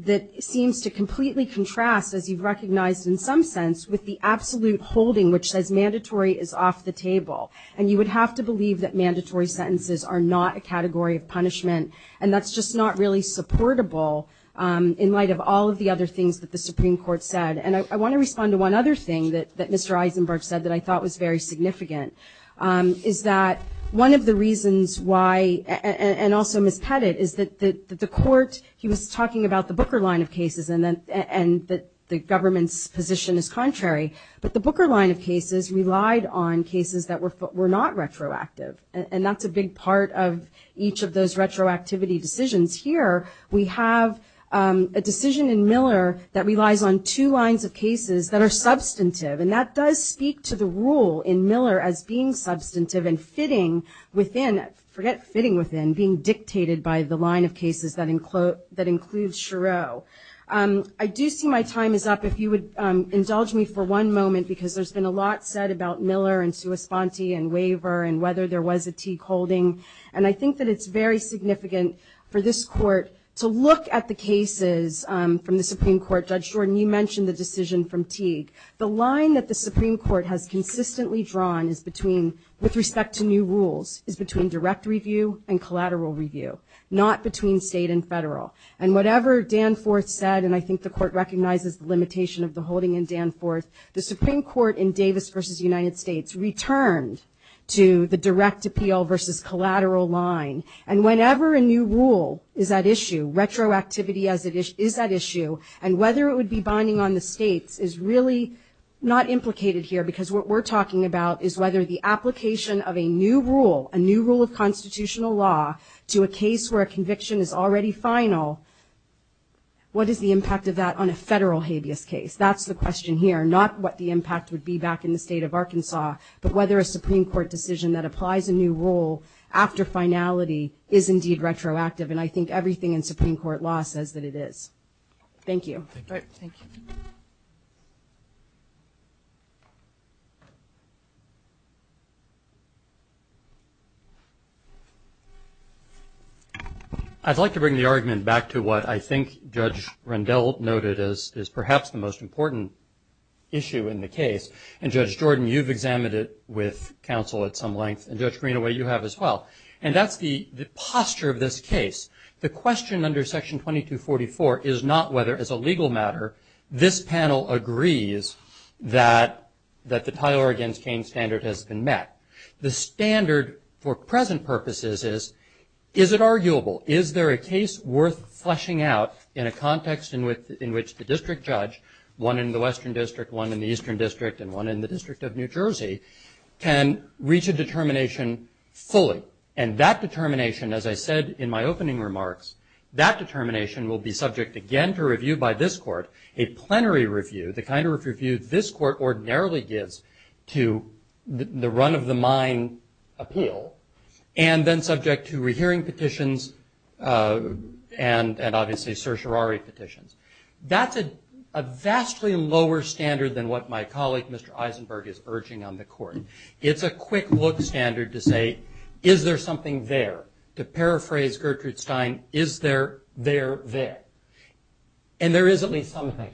that seems to completely contrast, as you've recognized in some sense, with the absolute holding, which says mandatory is off the table. And you would have to believe that mandatory sentences are not a category of punishment, and that's just not really supportable in light of all of the other things that the Supreme Court said. And I want to respond to one other thing that Mr. Eisenberg said that I thought was very significant, is that one of the reasons why, and also Ms. Pettit, is that the court, he was talking about the Booker line of cases and that the government's position is contrary. But the Booker line of cases relied on cases that were not retroactive, and that's a big part of each of those retroactivity decisions here. We have a decision in Miller that relies on two lines of cases that are substantive, and that does speak to the rule in Miller as being substantive and sitting within, forget sitting within, being dictated by the line of cases that includes Shiro. I do see my time is up. If you would indulge me for one moment, because there's been a lot said about Miller and sua sponte and waiver and whether there was a Teague holding. And I think that it's very significant for this court to look at the cases from the Supreme Court. Judge Jordan, you mentioned the decision from Teague. The line that the Supreme Court has consistently drawn is between, with respect to new rules, And whatever Danforth said, and I think the court recognizes the limitation of the holding in Danforth, the Supreme Court in Davis versus the United States returned to the direct appeal versus collateral line. And whenever a new rule is at issue, retroactivity is at issue, and whether it would be binding on the states is really not implicated here, because what we're talking about is whether the application of a new rule, a new rule of constitutional law to a case where a conviction is already final, what is the impact of that on a federal habeas case? That's the question here, not what the impact would be back in the state of Arkansas, but whether a Supreme Court decision that applies a new rule after finality is indeed retroactive. And I think everything in Supreme Court law says that it is. Thank you. All right, thank you. I'd like to bring the argument back to what I think Judge Rendell noted is perhaps the most important issue in the case. And Judge Jordan, you've examined it with counsel at some length, and Judge Greenaway, you have as well. And that's the posture of this case. The question under Section 2244 is not whether, as a legal matter, this panel agrees that the Tyler v. Cain standard has been met. The standard for present purposes is, is it arguable? Is there a case worth fleshing out in a context in which the district judge, one in the Western District, one in the Eastern District, and one in the District of New Jersey, can reach a determination fully? And that determination, as I said in my opening remarks, that determination will be subject again to review by this Court, a plenary review, the kind of review this Court ordinarily gives to the run-of-the-mind appeal, and then subject to rehearing petitions and obviously certiorari petitions. That's a vastly lower standard than what my colleague, Mr. Eisenberg, is urging on the Court. It's a quick-look standard to say, is there something there, to paraphrase Gertrude Stein, is there there there? And there is at least something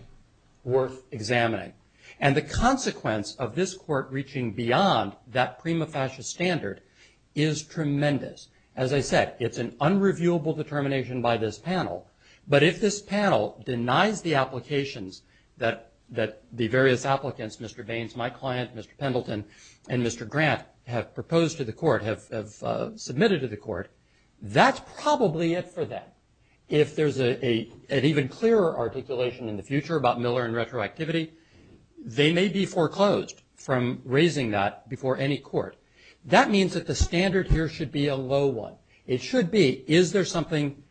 worth examining. And the consequence of this Court reaching beyond that prima facie standard is tremendous. As I said, it's an unreviewable determination by this panel. But if this panel denies the applications that the various applicants, Mr. Baines, my client, Mr. Pendleton, and Mr. Grant, have proposed to the Court, have submitted to the Court, that's probably it for them. If there's an even clearer articulation in the future about Miller and retroactivity, they may be foreclosed from raising that before any Court. That means that the standard here should be a low one. It should be, is there something,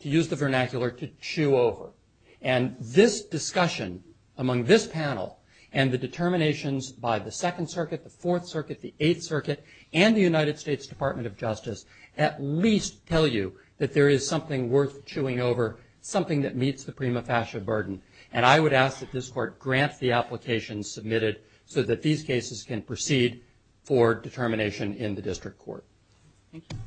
to use the vernacular, to chew over? And this discussion among this panel and the determinations by the Second Circuit, the Fourth Circuit, the Eighth Circuit, and the United States Department of Justice, at least tell you that there is something worth chewing over, something that meets the prima facie burden. And I would ask that this Court grant the applications submitted so that these cases can proceed for determination in the District Court. Thank you.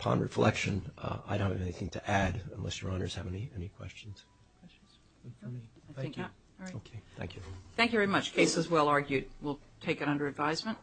Upon reflection, I don't have anything to add, unless Your Honors have any questions. Thank you. Thank you. Thank you very much. Case is well argued. We'll take it under advisement.